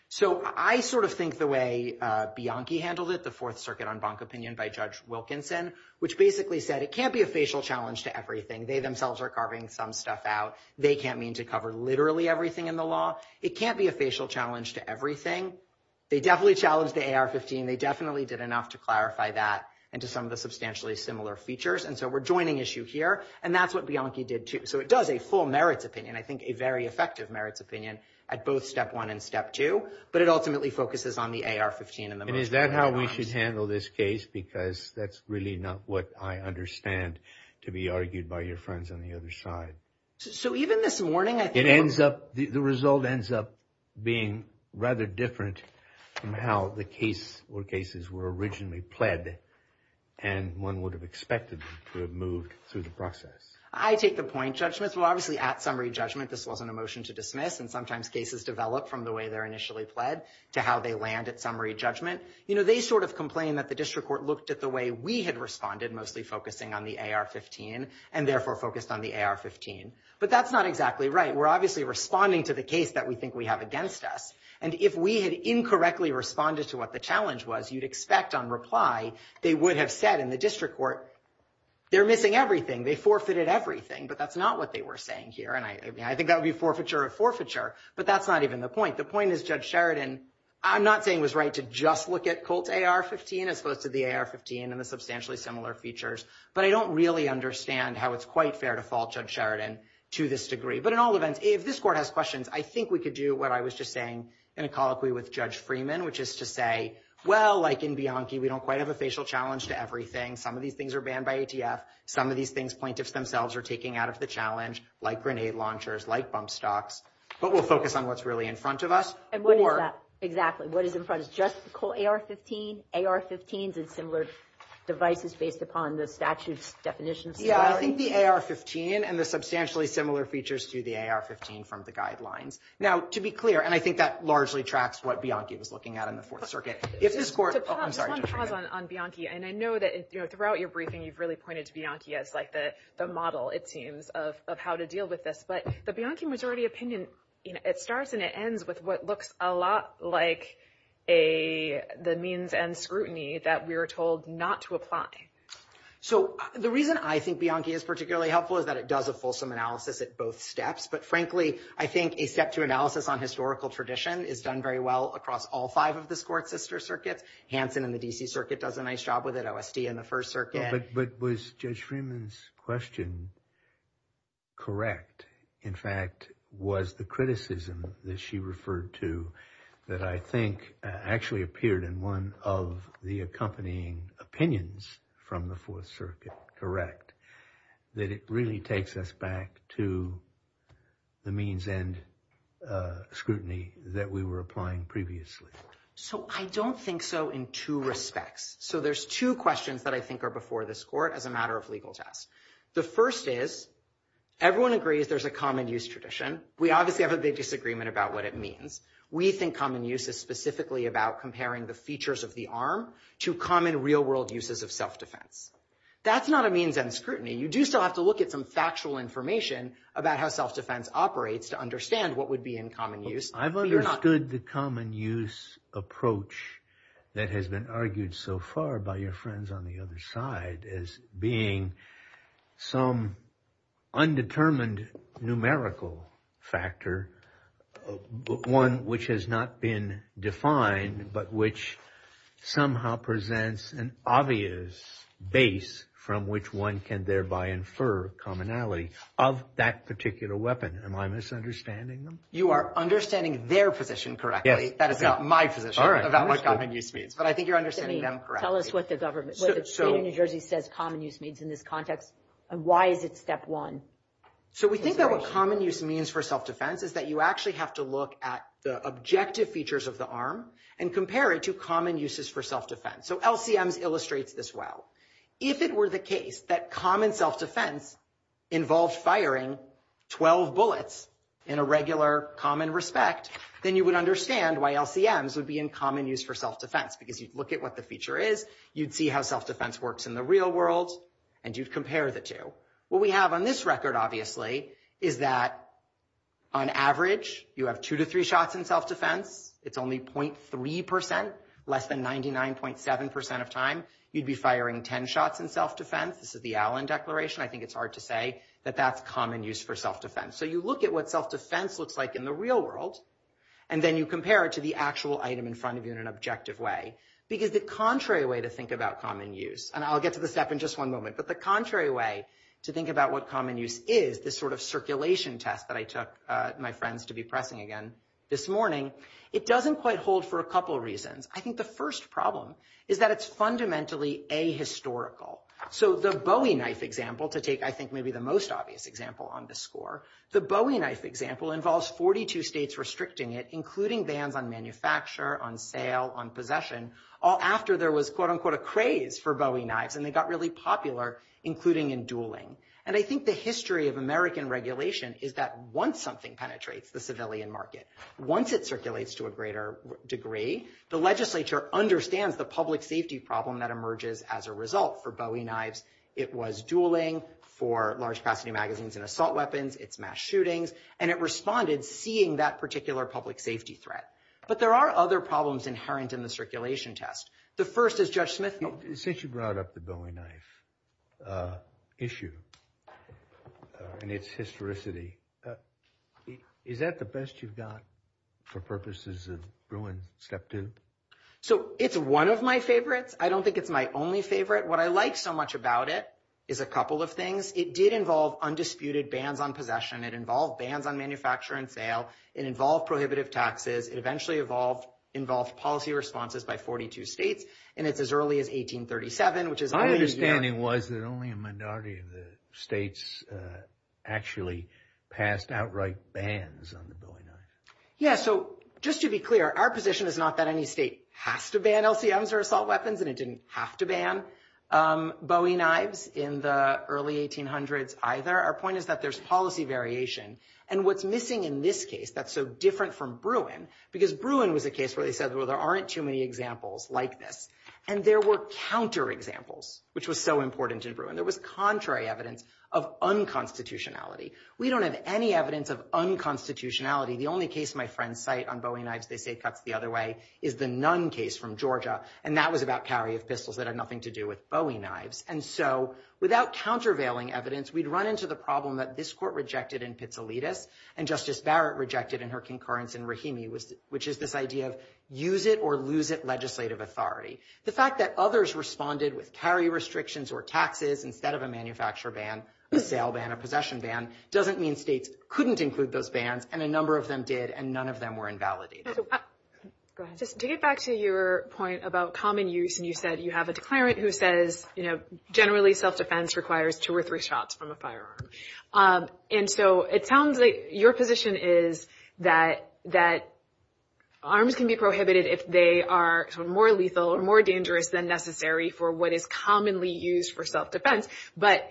So I sort of think the way Bianchi handled it, the Fourth Circuit on bunk opinion by Judge Wilkinson, which basically said it can't be a facial challenge to everything. They themselves are carving some stuff out. They can't mean to cover literally everything in the law. It can't be a facial challenge to everything. They definitely challenged the AR-15. They definitely did enough to clarify that and to some of the substantially similar features. And so we're joining issue here. And that's what Bianchi did, too. So it does a full merits opinion, I think, a very effective merits opinion at both step one and step two. But it ultimately focuses on the AR-15. And is that how we should handle this case? Because that's really not what I understand to be argued by your friends on the other side. So even this morning, it ends up the result ends up being rather different from how the case or cases were originally pled. And one would have expected to have moved through the process. I take the point judgments. Well, obviously, at summary judgment, this wasn't a motion to dismiss. And sometimes cases develop from the way they're initially pled to how they land at summary judgment. You know, they sort of complain that the district court looked at the way we had responded, mostly focusing on the AR-15 and therefore focused on the AR-15. But that's not exactly right. We're obviously responding to the case that we think we have against us. And if we had incorrectly responded to what the challenge was, you'd expect on reply they would have said in the district court, they're missing everything. They forfeited everything. But that's not what they were saying here. And I think that would be forfeiture of forfeiture. But that's not even the point. The point is, Judge Sheridan, I'm not saying was right to just look at Colt AR-15 as opposed to the AR-15 and the substantially similar features. But I don't really understand how it's quite fair to fault Judge Sheridan to this degree. But in all events, if this court has questions, I think we could do what I was just saying in a colloquy with Judge Freeman, which is to say, well, like in Bianchi, we don't quite have a facial challenge to everything. Some of these things are banned by ATF. Some of these things plaintiffs themselves are taking out of the challenge, like grenade launchers, like bump stocks. But we'll focus on what's really in front of us. And what is that? What is in front of us? Just Colt AR-15, AR-15s and similar devices based upon the statute's definitions. Yeah, I think the AR-15 and the substantially similar features to the AR-15 from the guidelines. Now, to be clear, and I think that largely tracks what Bianchi was looking at in the Fourth Circuit. If this court... Just one pause on Bianchi. And I know that throughout your briefing, you've really pointed to Bianchi as like the model, it seems, of how to deal with this. But the Bianchi majority opinion, it starts and it ends with what looks a lot like the means and scrutiny that we were told not to apply. So the reason I think Bianchi is particularly helpful is that it does a fulsome analysis at both steps. But frankly, I think a step to analysis on historical tradition is done very well across all five of the sports sister circuits. Hansen in the D.C. Circuit does a nice job with it. OSD in the First Circuit. But was Judge Freeman's question correct? In fact, was the criticism that she referred to that I think actually appeared in one of the accompanying opinions from the Fourth Circuit correct? That it really takes us back to the means and scrutiny that we were applying previously. So I don't think so in two respects. So there's two questions that I think are before this court as a matter of legal test. The first is, everyone agrees there's a common use tradition. We obviously have a big disagreement about what it means. We think common use is specifically about comparing the features of the arm to common real world uses of self-defense. That's not a means and scrutiny. You do still have to look at some factual information about how self-defense operates to understand what would be in common use. I've understood the common use approach that has been argued so far by your friends on the other side as being some undetermined numerical factor. One which has not been defined, but which somehow presents an obvious base from which one can thereby infer commonality of that particular weapon. Am I misunderstanding them? You are understanding their position correctly. That is not my position about what common use means. But I think you're understanding them correctly. Tell us what the government, what the state of New Jersey says common use means in this context. And why is it step one? So we think that what common use means for self-defense is that you actually have to look at the objective features of the arm and compare it to common uses for self-defense. So LCMs illustrates this well. If it were the case that common self-defense involved firing 12 bullets in a regular common respect, then you would understand why LCMs would be in common use for self-defense. Because you'd look at what the feature is, you'd see how self-defense works in the real world, and you'd compare the two. What we have on this record, obviously, is that on average, you have two to three shots in self-defense. It's only 0.3%, less than 99.7% of time. You'd be firing 10 shots in self-defense. This is the Allen Declaration. I think it's hard to say that that's common use for self-defense. So you look at what self-defense looks like in the real world, and then you compare it to the actual item in front of you in an objective way. Because the contrary way to think about common use, and I'll get to the step in just one moment, but the contrary way to think about what common use is, this sort of circulation test that I took my friends to be pressing again this morning, it doesn't quite hold for a couple reasons. I think the first problem is that it's fundamentally ahistorical. So the Bowie knife example, to take, I think, maybe the most obvious example on this score, the Bowie knife example involves 42 states restricting it, including bans on manufacture, on sale, on possession, all after there was quote-unquote a craze for Bowie knives, and they got really popular, including in dueling. And I think the history of American regulation is that once something penetrates the civilian market, once it circulates to a greater degree, the legislature understands the public safety problem that emerges as a result for Bowie knives. It was dueling for large-capacity magazines and assault weapons, it's mass shootings, and it responded seeing that particular public safety threat. But there are other problems inherent in the circulation test. The first is, Judge Smith, since you brought up the Bowie knife issue and its historicity, is that the best you've got for purposes of Bruin step two? So it's one of my favorites. I don't think it's my only favorite. What I like so much about it is a couple of things. It did involve undisputed bans on possession, it involved bans on manufacture and sale, it involved prohibitive taxes, it eventually involved policy responses by 42 states, and it's as early as 1837, which is only a year. My understanding was that only a minority of the states actually passed outright bans on the Bowie knife. Yeah, so just to be clear, our position is not that any state has to ban LCMs or assault weapons, and it didn't have to ban Bowie knives in the early 1800s either. Our point is that there's policy variation. And what's missing in this case that's so different from Bruin, because Bruin was a case where they said, well, there aren't too many examples like this. And there were counterexamples, which was so important in Bruin. There was contrary evidence of unconstitutionality. We don't have any evidence of unconstitutionality. The only case my friends cite on Bowie knives, they say cuts the other way, is the Nunn case from Georgia. And that was about carry of pistols that had nothing to do with Bowie knives. And so without countervailing evidence, we'd run into the problem that this court rejected in Pizzolittis, and Justice Barrett rejected in her concurrence in Rahimi, which is this idea of use it or lose it legislative authority. The fact that others responded with carry restrictions or taxes instead of a manufacturer ban, a sale ban, a possession ban, doesn't mean states couldn't include those bans, and a number of them did, and none of them were invalidated. Just to get back to your point about common use, and you said you have a declarant who says, you know, generally self-defense requires two or three shots from a firearm. And so it sounds like your position is that arms can be prohibited if they are more lethal or more dangerous than necessary for what is commonly used for self-defense. But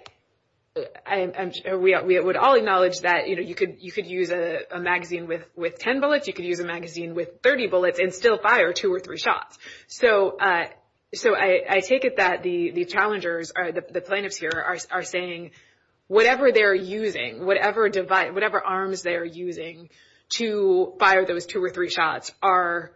we would all acknowledge that, you know, you could use a magazine with 10 bullets. You could use a magazine with 30 bullets and still fire two or three shots. So I take it that the challengers, the plaintiffs here, are saying whatever they're using, whatever device, whatever arms they're using to fire those two or three shots are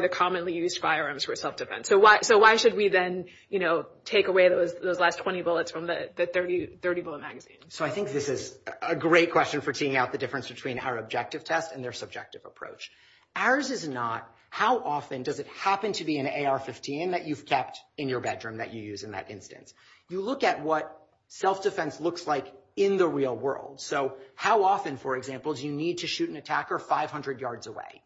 the commonly used firearms for self-defense. So why should we then, you know, take away those last 20 bullets from the 30-bullet magazine? So I think this is a great question for teeing out the difference between our objective test and their subjective approach. Ours is not how often does it happen to be an AR-15 that you've kept in your bedroom that you use in that instance. You look at what self-defense looks like in the real world. So how often, for example, do you need to shoot an attacker 500 yards away?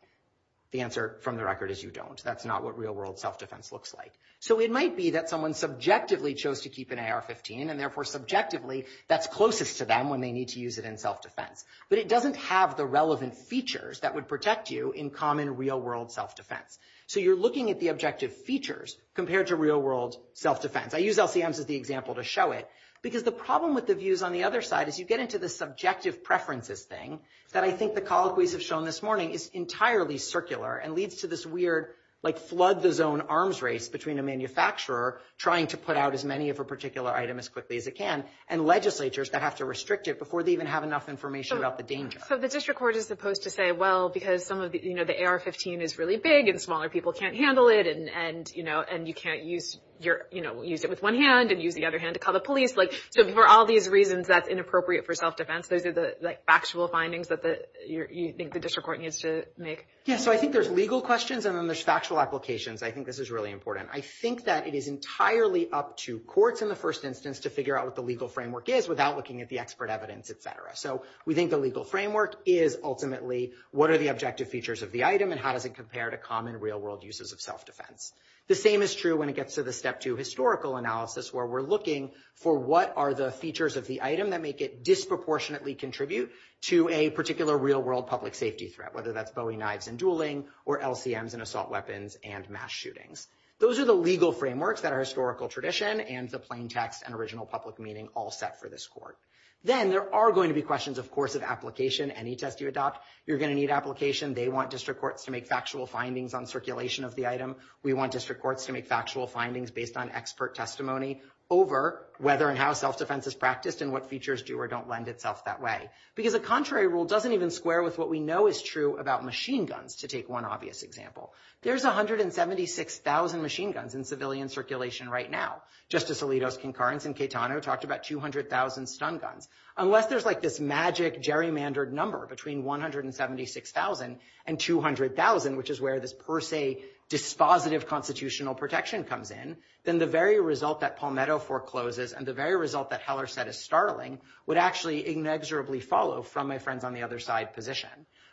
The answer from the record is you don't. That's not what real-world self-defense looks like. So it might be that someone subjectively chose to keep an AR-15, and therefore subjectively that's closest to them when they need to use it in self-defense. But it doesn't have the relevant features that would protect you in common real-world self-defense. So you're looking at the objective features compared to real-world self-defense. I use LCMs as the example to show it because the problem with the views on the other side is you get into the subjective preferences thing that I think the colloquies have shown this morning is entirely circular and leads to this weird, like, flood-the-zone arms race between a manufacturer trying to put out as many of a particular item as quickly as it can and legislatures that have to restrict it before they even have enough information about the danger. So the district court is supposed to say, well, because some of the, you know, the AR-15 is really big and smaller people can't handle it and, you know, and you can't use your, you know, use it with one hand and use the other hand to call the police. Like, so for all these reasons, that's inappropriate for self-defense. Those are the, like, factual findings that you think the district court needs to make. Yeah, so I think there's legal questions and then there's factual applications. I think this is really important. I think that it is entirely up to courts in the first instance to figure out what the legal framework is without looking at the expert evidence, et cetera. So we think the legal framework is ultimately what are the objective features of the item and how does it compare to common real-world uses of self-defense. The same is true when it gets to the step two historical analysis where we're looking for what are the features of the item that make it disproportionately contribute to a particular real-world public safety threat, whether that's Bowie knives and dueling or LCMs and assault weapons and mass shootings. Those are the legal frameworks that are historical tradition and the plain text and original public meaning all set for this court. Then there are going to be questions, of course, of application. Any test you adopt, you're going to need application. They want district courts to make factual findings on circulation of the item. We want district courts to make factual findings based on expert testimony over whether and how self-defense is practiced and what features do or don't lend itself that way. Because a contrary rule doesn't even square with what we know is true about machine guns, to take one obvious example. There's 176,000 machine guns in civilian circulation right now. Justice Alito's concurrence in Catano talked about 200,000 stun guns. Unless there's like this magic gerrymandered number between 176,000 and 200,000, which is where this per se dispositive constitutional protection comes in, then the very result that Palmetto forecloses and the very result that Heller said is startling would actually inexorably follow from my friends on the other side position.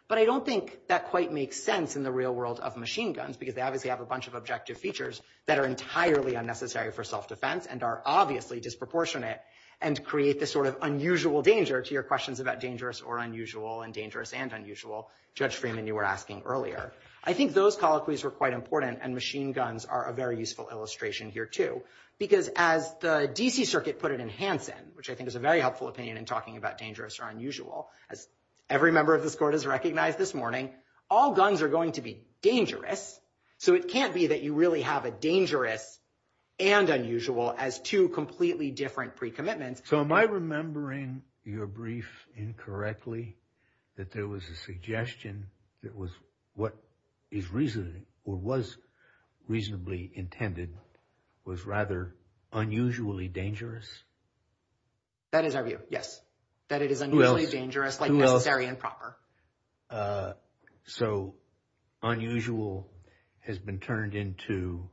But I don't think that quite makes sense in the real world of machine guns because they obviously have a bunch of objective features that are entirely unnecessary for self-defense and are obviously disproportionate and create this sort of unusual danger to your questions about dangerous or unusual and dangerous and unusual, Judge Freeman, you were asking earlier. I think those colloquies were quite important and machine guns are a very useful illustration here, too. Because as the D.C. Circuit put it in Hanson, which I think is a very helpful opinion in talking about dangerous or unusual, as every member of this court has recognized this morning, all guns are going to be dangerous. So it can't be that you really have a dangerous and unusual as two completely different precommitments. So am I remembering your brief incorrectly that there was a suggestion that was what is reasonably or was reasonably intended was rather unusually dangerous? That is our view. Yes. That it is unusually dangerous, like necessary and proper. So unusual has been turned into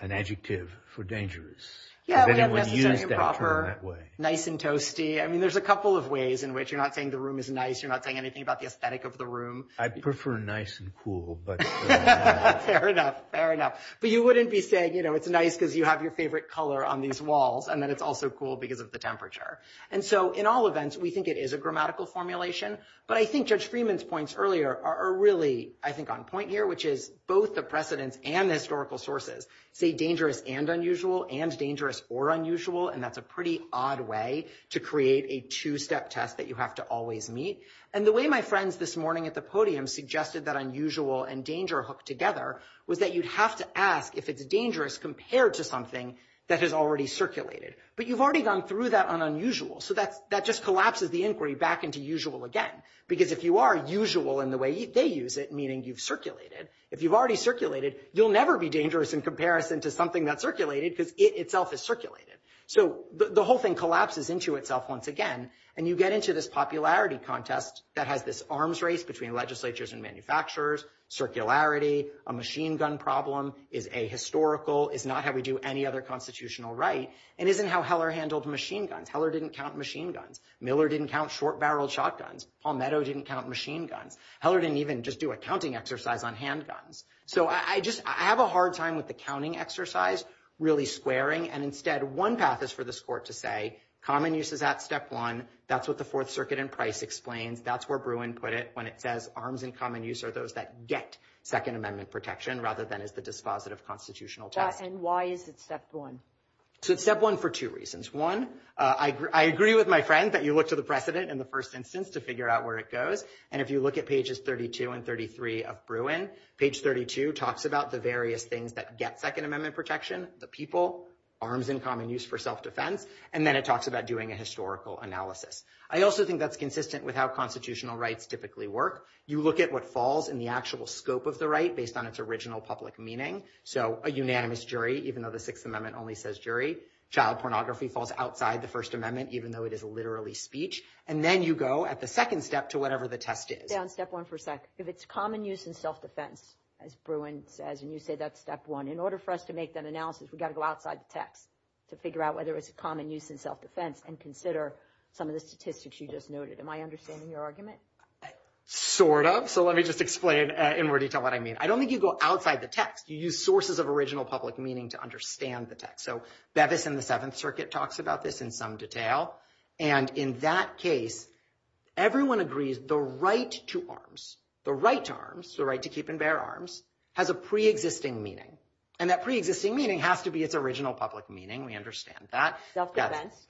an adjective for dangerous. Yeah, we have necessary and proper, nice and toasty. I mean, there's a couple of ways in which you're not saying the room is nice. You're not saying anything about the aesthetic of the room. I prefer nice and cool. But fair enough, fair enough. But you wouldn't be saying, you know, it's nice because you have your favorite color on these walls and then it's also cool because of the temperature. And so in all events, we think it is a grammatical formulation. But I think Judge Freeman's points earlier are really, I think, on point here, which is both the precedents and historical sources say dangerous and unusual and dangerous or unusual. And that's a pretty odd way to create a two-step test that you have to always meet. And the way my friends this morning at the podium suggested that unusual and danger are hooked together was that you'd have to ask if it's dangerous compared to something that has already circulated. But you've already gone through that on unusual. So that just collapses the inquiry back into usual again. Because if you are usual in the way they use it, meaning you've circulated, if you've already circulated, you'll never be dangerous in comparison to something that's circulated because it itself is circulated. So the whole thing collapses into itself once again. And you get into this popularity contest that has this arms race between legislatures and manufacturers. Circularity, a machine gun problem, is ahistorical, is not how we do any other constitutional right, and isn't how Heller handled machine guns. Heller didn't count machine guns. Miller didn't count short-barreled shotguns. Palmetto didn't count machine guns. Heller didn't even just do a counting exercise on handguns. So I just have a hard time with the counting exercise, really squaring. And instead, one path is for this court to say common use is at step one. That's what the Fourth Circuit in Price explains. That's where Bruin put it when it says arms in common use are those that get Second Amendment protection rather than is the dispositive constitutional test. And why is it step one? So it's step one for two reasons. One, I agree with my friend that you look to the precedent in the first instance to figure out where it goes. And if you look at pages 32 and 33 of Bruin, page 32 talks about the various things that get Second Amendment protection, the people, arms in common use for self-defense, and then it talks about doing a historical analysis. I also think that's consistent with how constitutional rights typically work. You look at what falls in the actual scope of the right based on its original public meaning. So a unanimous jury, even though the Sixth Amendment only says jury. Child pornography falls outside the First Amendment, even though it is literally speech. And then you go at the second step to whatever the test is. Down step one for a sec. If it's common use in self-defense, as Bruin says, and you say that's step one, in order for us to make that analysis, we've got to go outside the text to figure out whether it's a common use in self-defense and consider some of the statistics you just noted. Am I understanding your argument? Sort of. So let me just explain in more detail what I mean. I don't think you go outside the text. You use sources of original public meaning to understand the text. So Bevis in the Seventh Circuit talks about this in some detail. And in that case, everyone agrees the right to arms, the right to arms, the right to keep and bear arms, has a pre-existing meaning. And that pre-existing meaning has to be its original public meaning. We understand that.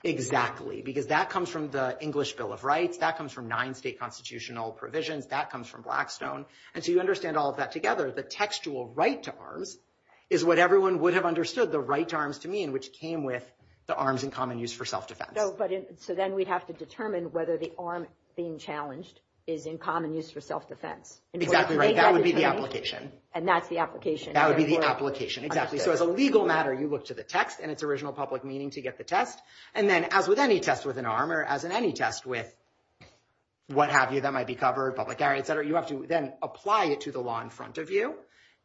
Exactly. Because that comes from the English Bill of Rights. That comes from nine state constitutional provisions. That comes from Blackstone. And so you understand all of that together. The textual right to arms is what everyone would have understood the right to arms to mean, which came with the arms in common use for self-defense. So then we'd have to determine whether the arm being challenged is in common use for self-defense. Exactly right. That would be the application. And that's the application. That would be the application. Exactly. So as a legal matter, you look to the text and its original public meaning to get the test. And then as with any test with an arm or as in any test with what have you that might be covered, public area, etc., you have to then apply it to the law in front of you.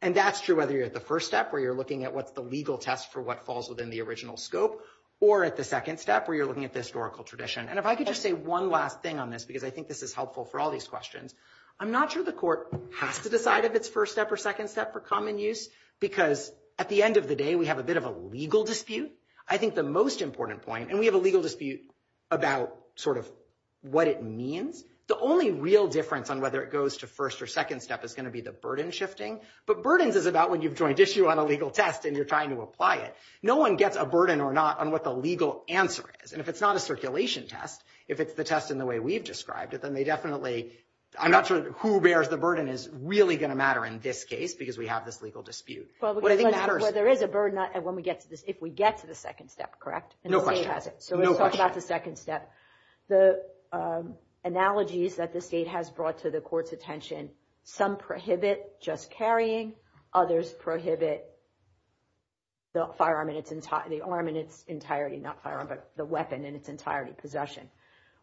And that's true whether you're at the first step where you're looking at what's the legal test for what falls within the original scope or at the second step where you're looking at the historical tradition. And if I could just say one last thing on this because I think this is helpful for all these questions, I'm not sure the court has to decide if it's first step or second step for common use because at the end of the day, we have a bit of a legal dispute. I think the most important point, and we have a legal dispute about sort of what it means, the only real difference on whether it goes to first or second step is going to be the burden shifting. But burdens is about when you've joined issue on a legal test and you're trying to apply it. No one gets a burden or not on what the legal answer is. And if it's not a circulation test, if it's the test in the way we've described it, then they definitely, I'm not sure who bears the burden is really going to matter in this case because we have this legal dispute. Well, there is a burden when we get to this, if we get to the second step, correct? No question. So let's talk about the second step. The analogies that the state has brought to the court's attention, some prohibit just carrying, others prohibit the firearm in its entirety, not firearm, but the weapon in its entirety, possession.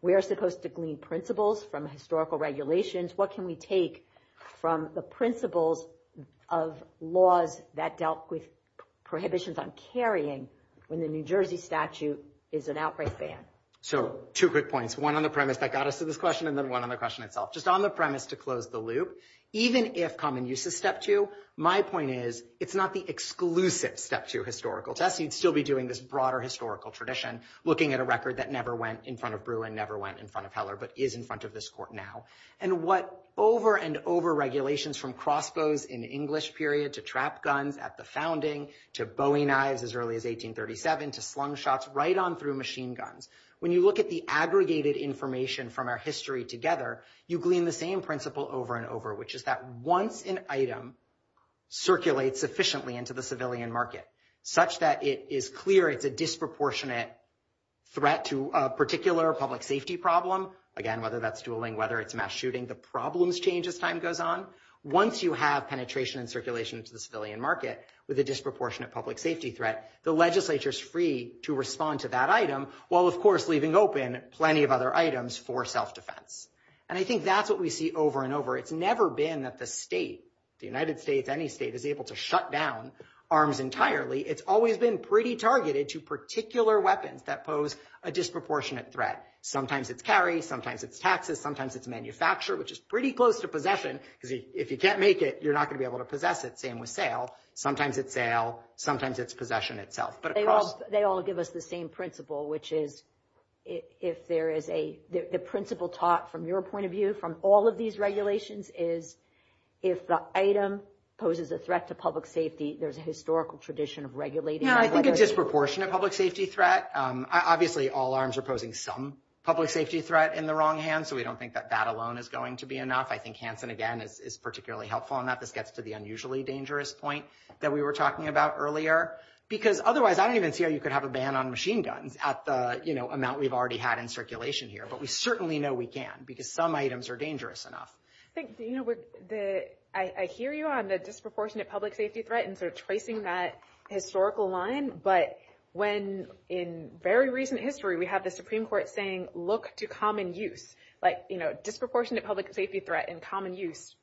We are supposed to glean principles from historical regulations. What can we take from the principles of laws that dealt with prohibitions on carrying when the New Jersey statute is an outbreak ban? So two quick points, one on the premise that got us to this question, and then one on the question itself. Just on the premise to close the loop, even if common use is step two, my point is it's not the exclusive step two historical test. You'd still be doing this broader historical tradition, looking at a record that never went in front of Bruin, never went in front of Heller, but is in front of this court now. And what over and over regulations from crossbows in English period to trap guns at the founding, to Bowie knives as early as 1837, to slung shots right on through machine guns. When you look at the aggregated information from our history together, you glean the same principle over and over, which is that once an item circulates efficiently into the civilian market, such that it is clear it's a disproportionate threat to a particular public safety problem, again, whether that's dueling, whether it's mass shooting, the problems change as time goes on. Once you have penetration and circulation to the civilian market with a disproportionate public safety threat, the legislature is free to respond to that item, while of course leaving open plenty of other items for self-defense. And I think that's what we see over and over. It's never been that the state, the United States, any state, is able to shut down arms entirely. It's always been pretty targeted to particular weapons that pose a disproportionate threat. Sometimes it's carry, sometimes it's taxes, sometimes it's manufacture, which is pretty close to possession, because if you can't make it, you're not going to be able to possess it. The same with sale. Sometimes it's sale, sometimes it's possession itself. But of course— They all give us the same principle, which is if there is a— the principle taught from your point of view from all of these regulations is if the item poses a threat to public safety, there's a historical tradition of regulating— Yeah, I think a disproportionate public safety threat. Obviously, all arms are posing some public safety threat in the wrong hands, so we don't think that that alone is going to be enough. I think Hanson, again, is particularly helpful in that. This gets to the unusually dangerous point that we were talking about earlier, because otherwise, I don't even see how you could have a ban on machine guns at the amount we've already had in circulation here. But we certainly know we can, because some items are dangerous enough. I think, you know, I hear you on the disproportionate public safety threat and sort of tracing that historical line, but when in very recent history, we have the Supreme Court saying, look to common use, like, you know, disproportionate public safety threat and common use,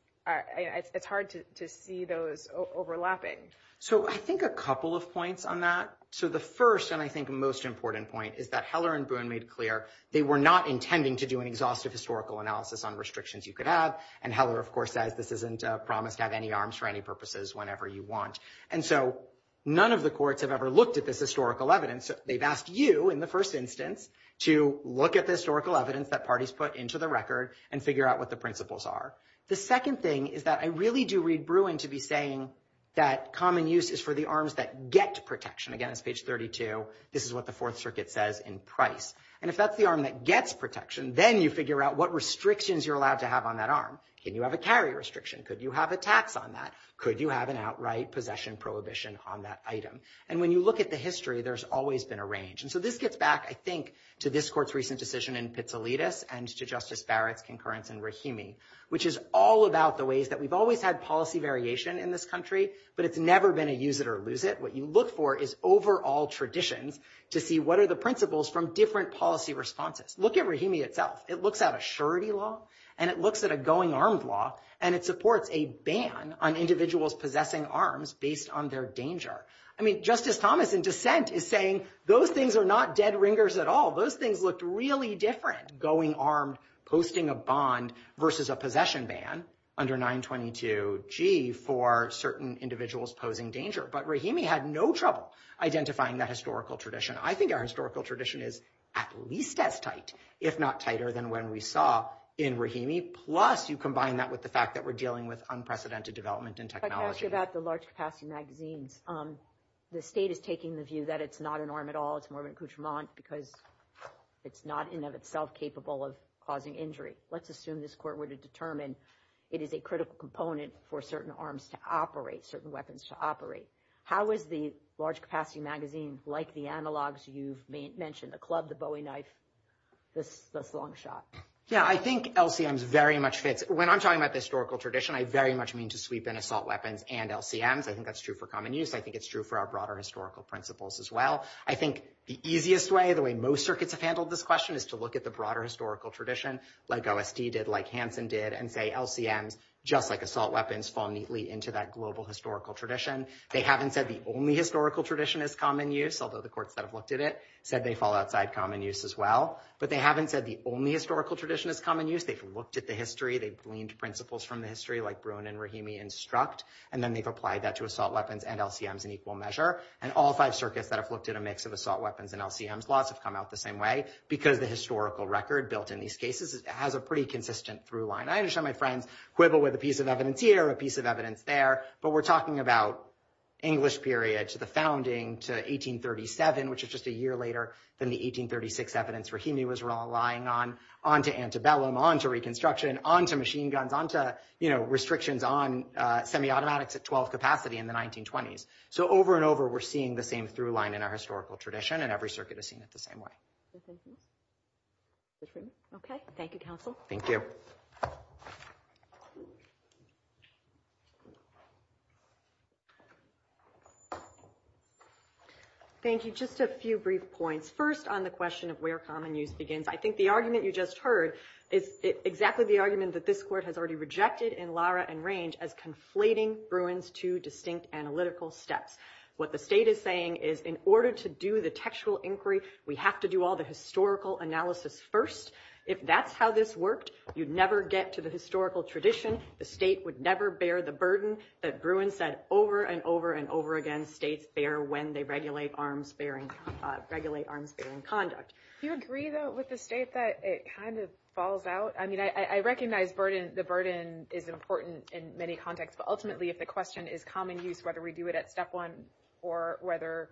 it's hard to see those overlapping. So I think a couple of points on that. So the first, and I think most important point, is that Heller and Boone made clear they were not intending to do an exhaustive historical analysis on restrictions you could have. And Heller, of course, says this isn't promised to have any arms for any purposes whenever you want. And so none of the courts have ever looked at this historical evidence. They've asked you, in the first instance, to look at the historical evidence that parties put into the record and figure out what the principles are. The second thing is that I really do read Bruin to be saying that common use is for the arms that get protection. Again, it's page 32. This is what the Fourth Circuit says in Price. And if that's the arm that gets protection, then you figure out what restrictions you're allowed to have on that arm. Can you have a carry restriction? Could you have a tax on that? Could you have an outright possession prohibition on that item? And when you look at the history, there's always been a range. And so this gets back, I think, to this court's recent decision in Pizzolittis and to Justice Barrett's concurrence in Rahimi, which is all about the ways that we've always had policy variation in this country, but it's never been a use it or lose it. What you look for is overall traditions to see what are the principles from different policy responses. Look at Rahimi itself. It looks at a surety law, and it looks at a going armed law, and it supports a ban on individuals possessing arms based on their danger. I mean, Justice Thomas in dissent is saying those things are not dead ringers at all. Those things looked really different, going armed, posting a bond versus a possession ban under 922G for certain individuals posing danger. But Rahimi had no trouble identifying that historical tradition. I think our historical tradition is at least as tight, if not tighter than when we saw in Rahimi, plus you combine that with the fact that we're dealing with unprecedented development in technology. About the large capacity magazines, the state is taking the view that it's not an arm at all. It's more of an accoutrement because it's not, in and of itself, capable of causing injury. Let's assume this court were to determine it is a critical component for certain arms to operate, certain weapons to operate. How is the large capacity magazine, like the analogs you've mentioned, the club, the Bowie knife, this long shot? Yeah, I think LCMs very much fits. When I'm talking about the historical tradition, I very much mean to sweep in assault weapons and LCMs. I think that's true for common use. I think it's true for our broader historical principles as well. I think the easiest way, the way most circuits have handled this question is to look at the broader historical tradition, like OSD did, like Hansen did, and say LCMs, just like assault weapons, fall neatly into that global historical tradition. They haven't said the only historical tradition is common use, although the courts that have looked at it said they fall outside common use as well. But they haven't said the only historical tradition is common use, they've looked at the history, they've gleaned principles from the history like Bruin and Rahimi instruct, and then they've applied that to assault weapons and LCMs in equal measure. And all five circuits that have looked at a mix of assault weapons and LCMs, lots have come out the same way because the historical record built in these cases has a pretty consistent through line. I understand my friends quibble with a piece of evidence here, a piece of evidence there, but we're talking about English period to the founding to 1837, which is just a year later than the 1836 evidence Rahimi was relying on, on to antebellum, on to reconstruction, on to machine guns, on to restrictions on semi-automatics at 12 capacity in the 1920s. So over and over we're seeing the same through line in our historical tradition and every circuit has seen it the same way. Okay, thank you counsel. Thank you. Thank you, just a few brief points. First on the question of where common use begins, I think the argument you just heard is exactly the argument that this court has already rejected in Lara and Range as conflating Bruin's two distinct analytical steps. What the state is saying is in order to do the textual inquiry, we have to do all the historical analysis first. If that's how this worked, you'd never get to the historical tradition. The state would never bear the burden that Bruin said over and over and over again, states bear when they regulate arms bearing, regulate arms bearing conduct. Do you agree though with the state that it kind of falls out? I mean, I recognize burden, the burden is important in many contexts, but ultimately if the question is common use, whether we do it at step one or whether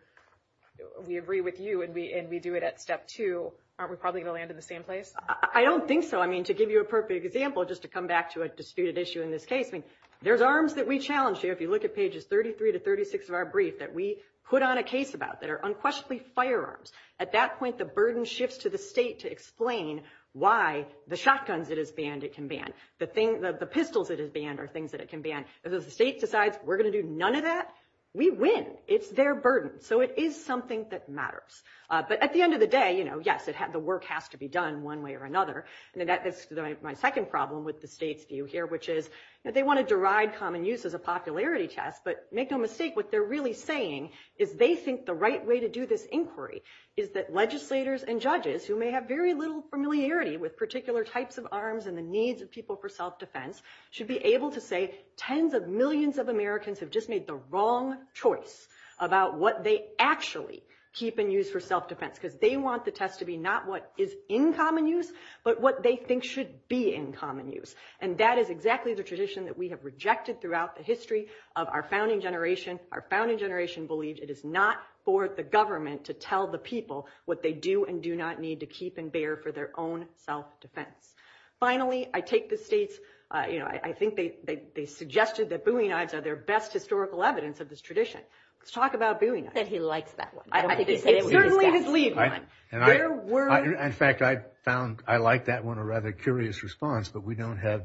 we agree with you and we do it at step two, aren't we probably gonna land in the same place? I don't think so. I mean, to give you a perfect example, just to come back to a disputed issue in this case, I mean, there's arms that we challenge here. If you look at pages 33 to 36 of our brief that we put on a case about that are unquestionably firearms. At that point, the burden shifts to the state to explain why the shotguns it has banned, it can ban. The pistols it has banned are things that it can ban. If the state decides we're gonna do none of that, we win, it's their burden. So it is something that matters. But at the end of the day, yes, the work has to be done one way or another. And that is my second problem with the state's view here, which is that they wanna deride common use as a popularity test, but make no mistake, what they're really saying is they think the right way to do this inquiry is that legislators and judges who may have very little familiarity with particular types of arms and the needs of people for self-defense should be able to say tens of millions of Americans have just made the wrong choice about what they actually keep and use for self-defense because they want the test to be not what is in common use, but what they think should be in common use. And that is exactly the tradition that we have rejected throughout the history of our founding generation. Our founding generation believed it is not for the government to tell the people what they do and do not need to keep and bear for their own self-defense. Finally, I take the state's, I think they suggested that Bowie knives are their best historical evidence of this tradition. Let's talk about Bowie knives. That he likes that one. I think he said it was his best one. It's certainly his lead one. There were... In fact, I found, I liked that one a rather curious response, but we don't have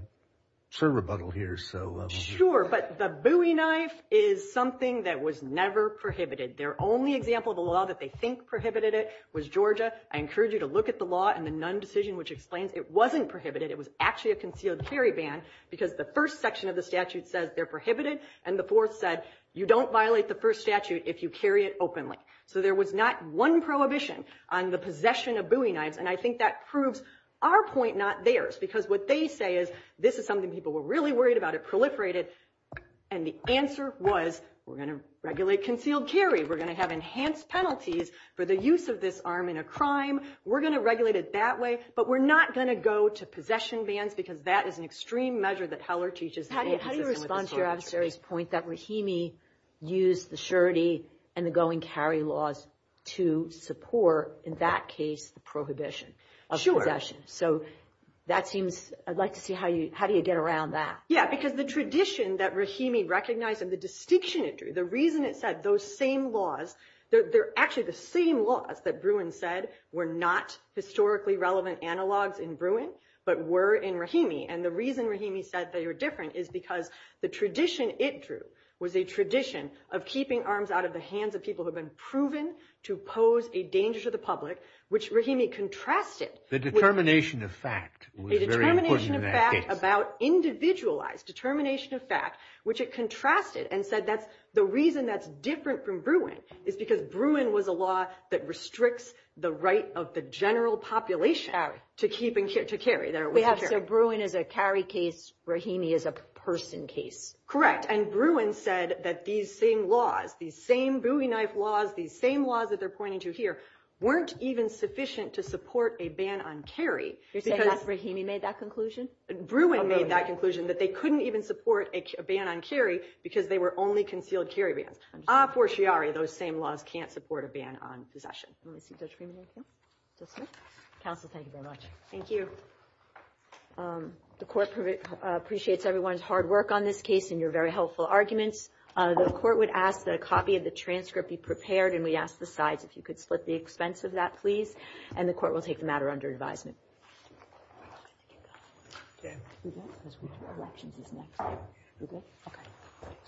Sir rebuttal here, so... Sure, but the Bowie knife is something that was never prohibited. Their only example of a law that they think prohibited it was Georgia. I encourage you to look at the law and the Nunn decision, which explains it wasn't prohibited. It was actually a concealed carry ban because the first section of the statute says they're prohibited, and the fourth said you don't violate the first statute if you carry it openly. So there was not one prohibition on the possession of Bowie knives, and I think that proves our point, not theirs, because what they say is this is something people were really worried about. It proliferated, and the answer was we're going to regulate concealed carry. We're going to have enhanced penalties for the use of this arm in a crime. We're going to regulate it that way, but we're not going to go to possession bans because that is an extreme measure that Heller teaches... How do you respond to your adversary's point that Rahimi used the surety and the go-and-carry laws to support, in that case, the prohibition of possession? So that seems... I'd like to see how do you get around that? Yeah, because the tradition that Rahimi recognized and the distinction it drew, the reason it said those same laws, they're actually the same laws that Bruin said were not historically relevant analogs in Bruin, but were in Rahimi. And the reason Rahimi said they were different is because the tradition it drew was a tradition of keeping arms out of the hands of people who have been proven to pose a danger to the public, which Rahimi contrasted... The determination of fact was very important in that case. ...a determination of fact about individualized, determination of fact, which it contrasted and said that's the reason that's different from Bruin is because Bruin was a law that restricts the right of the general population to carry. We have said Bruin is a carry case, Rahimi is a person case. Correct, and Bruin said that these same laws, these same Bowie knife laws, these same laws that they're pointing to here, weren't even sufficient to support a ban on carry. You're saying Rahimi made that conclusion? Bruin made that conclusion, that they couldn't even support a ban on carry because they were only concealed carry bans. Ah, for Chiari, those same laws can't support a ban on possession. Let me see, Judge Rahimi, thank you. Judge Smith. Counsel, thank you very much. Thank you. The court appreciates everyone's hard work on this case and your very helpful arguments. The court would ask that a copy of the transcript be prepared and we ask the sides if you could split the expense of that, please. And the court will take the matter under advisement. I think you got it. Okay. We good? Because we have elections this next year. We good? Okay.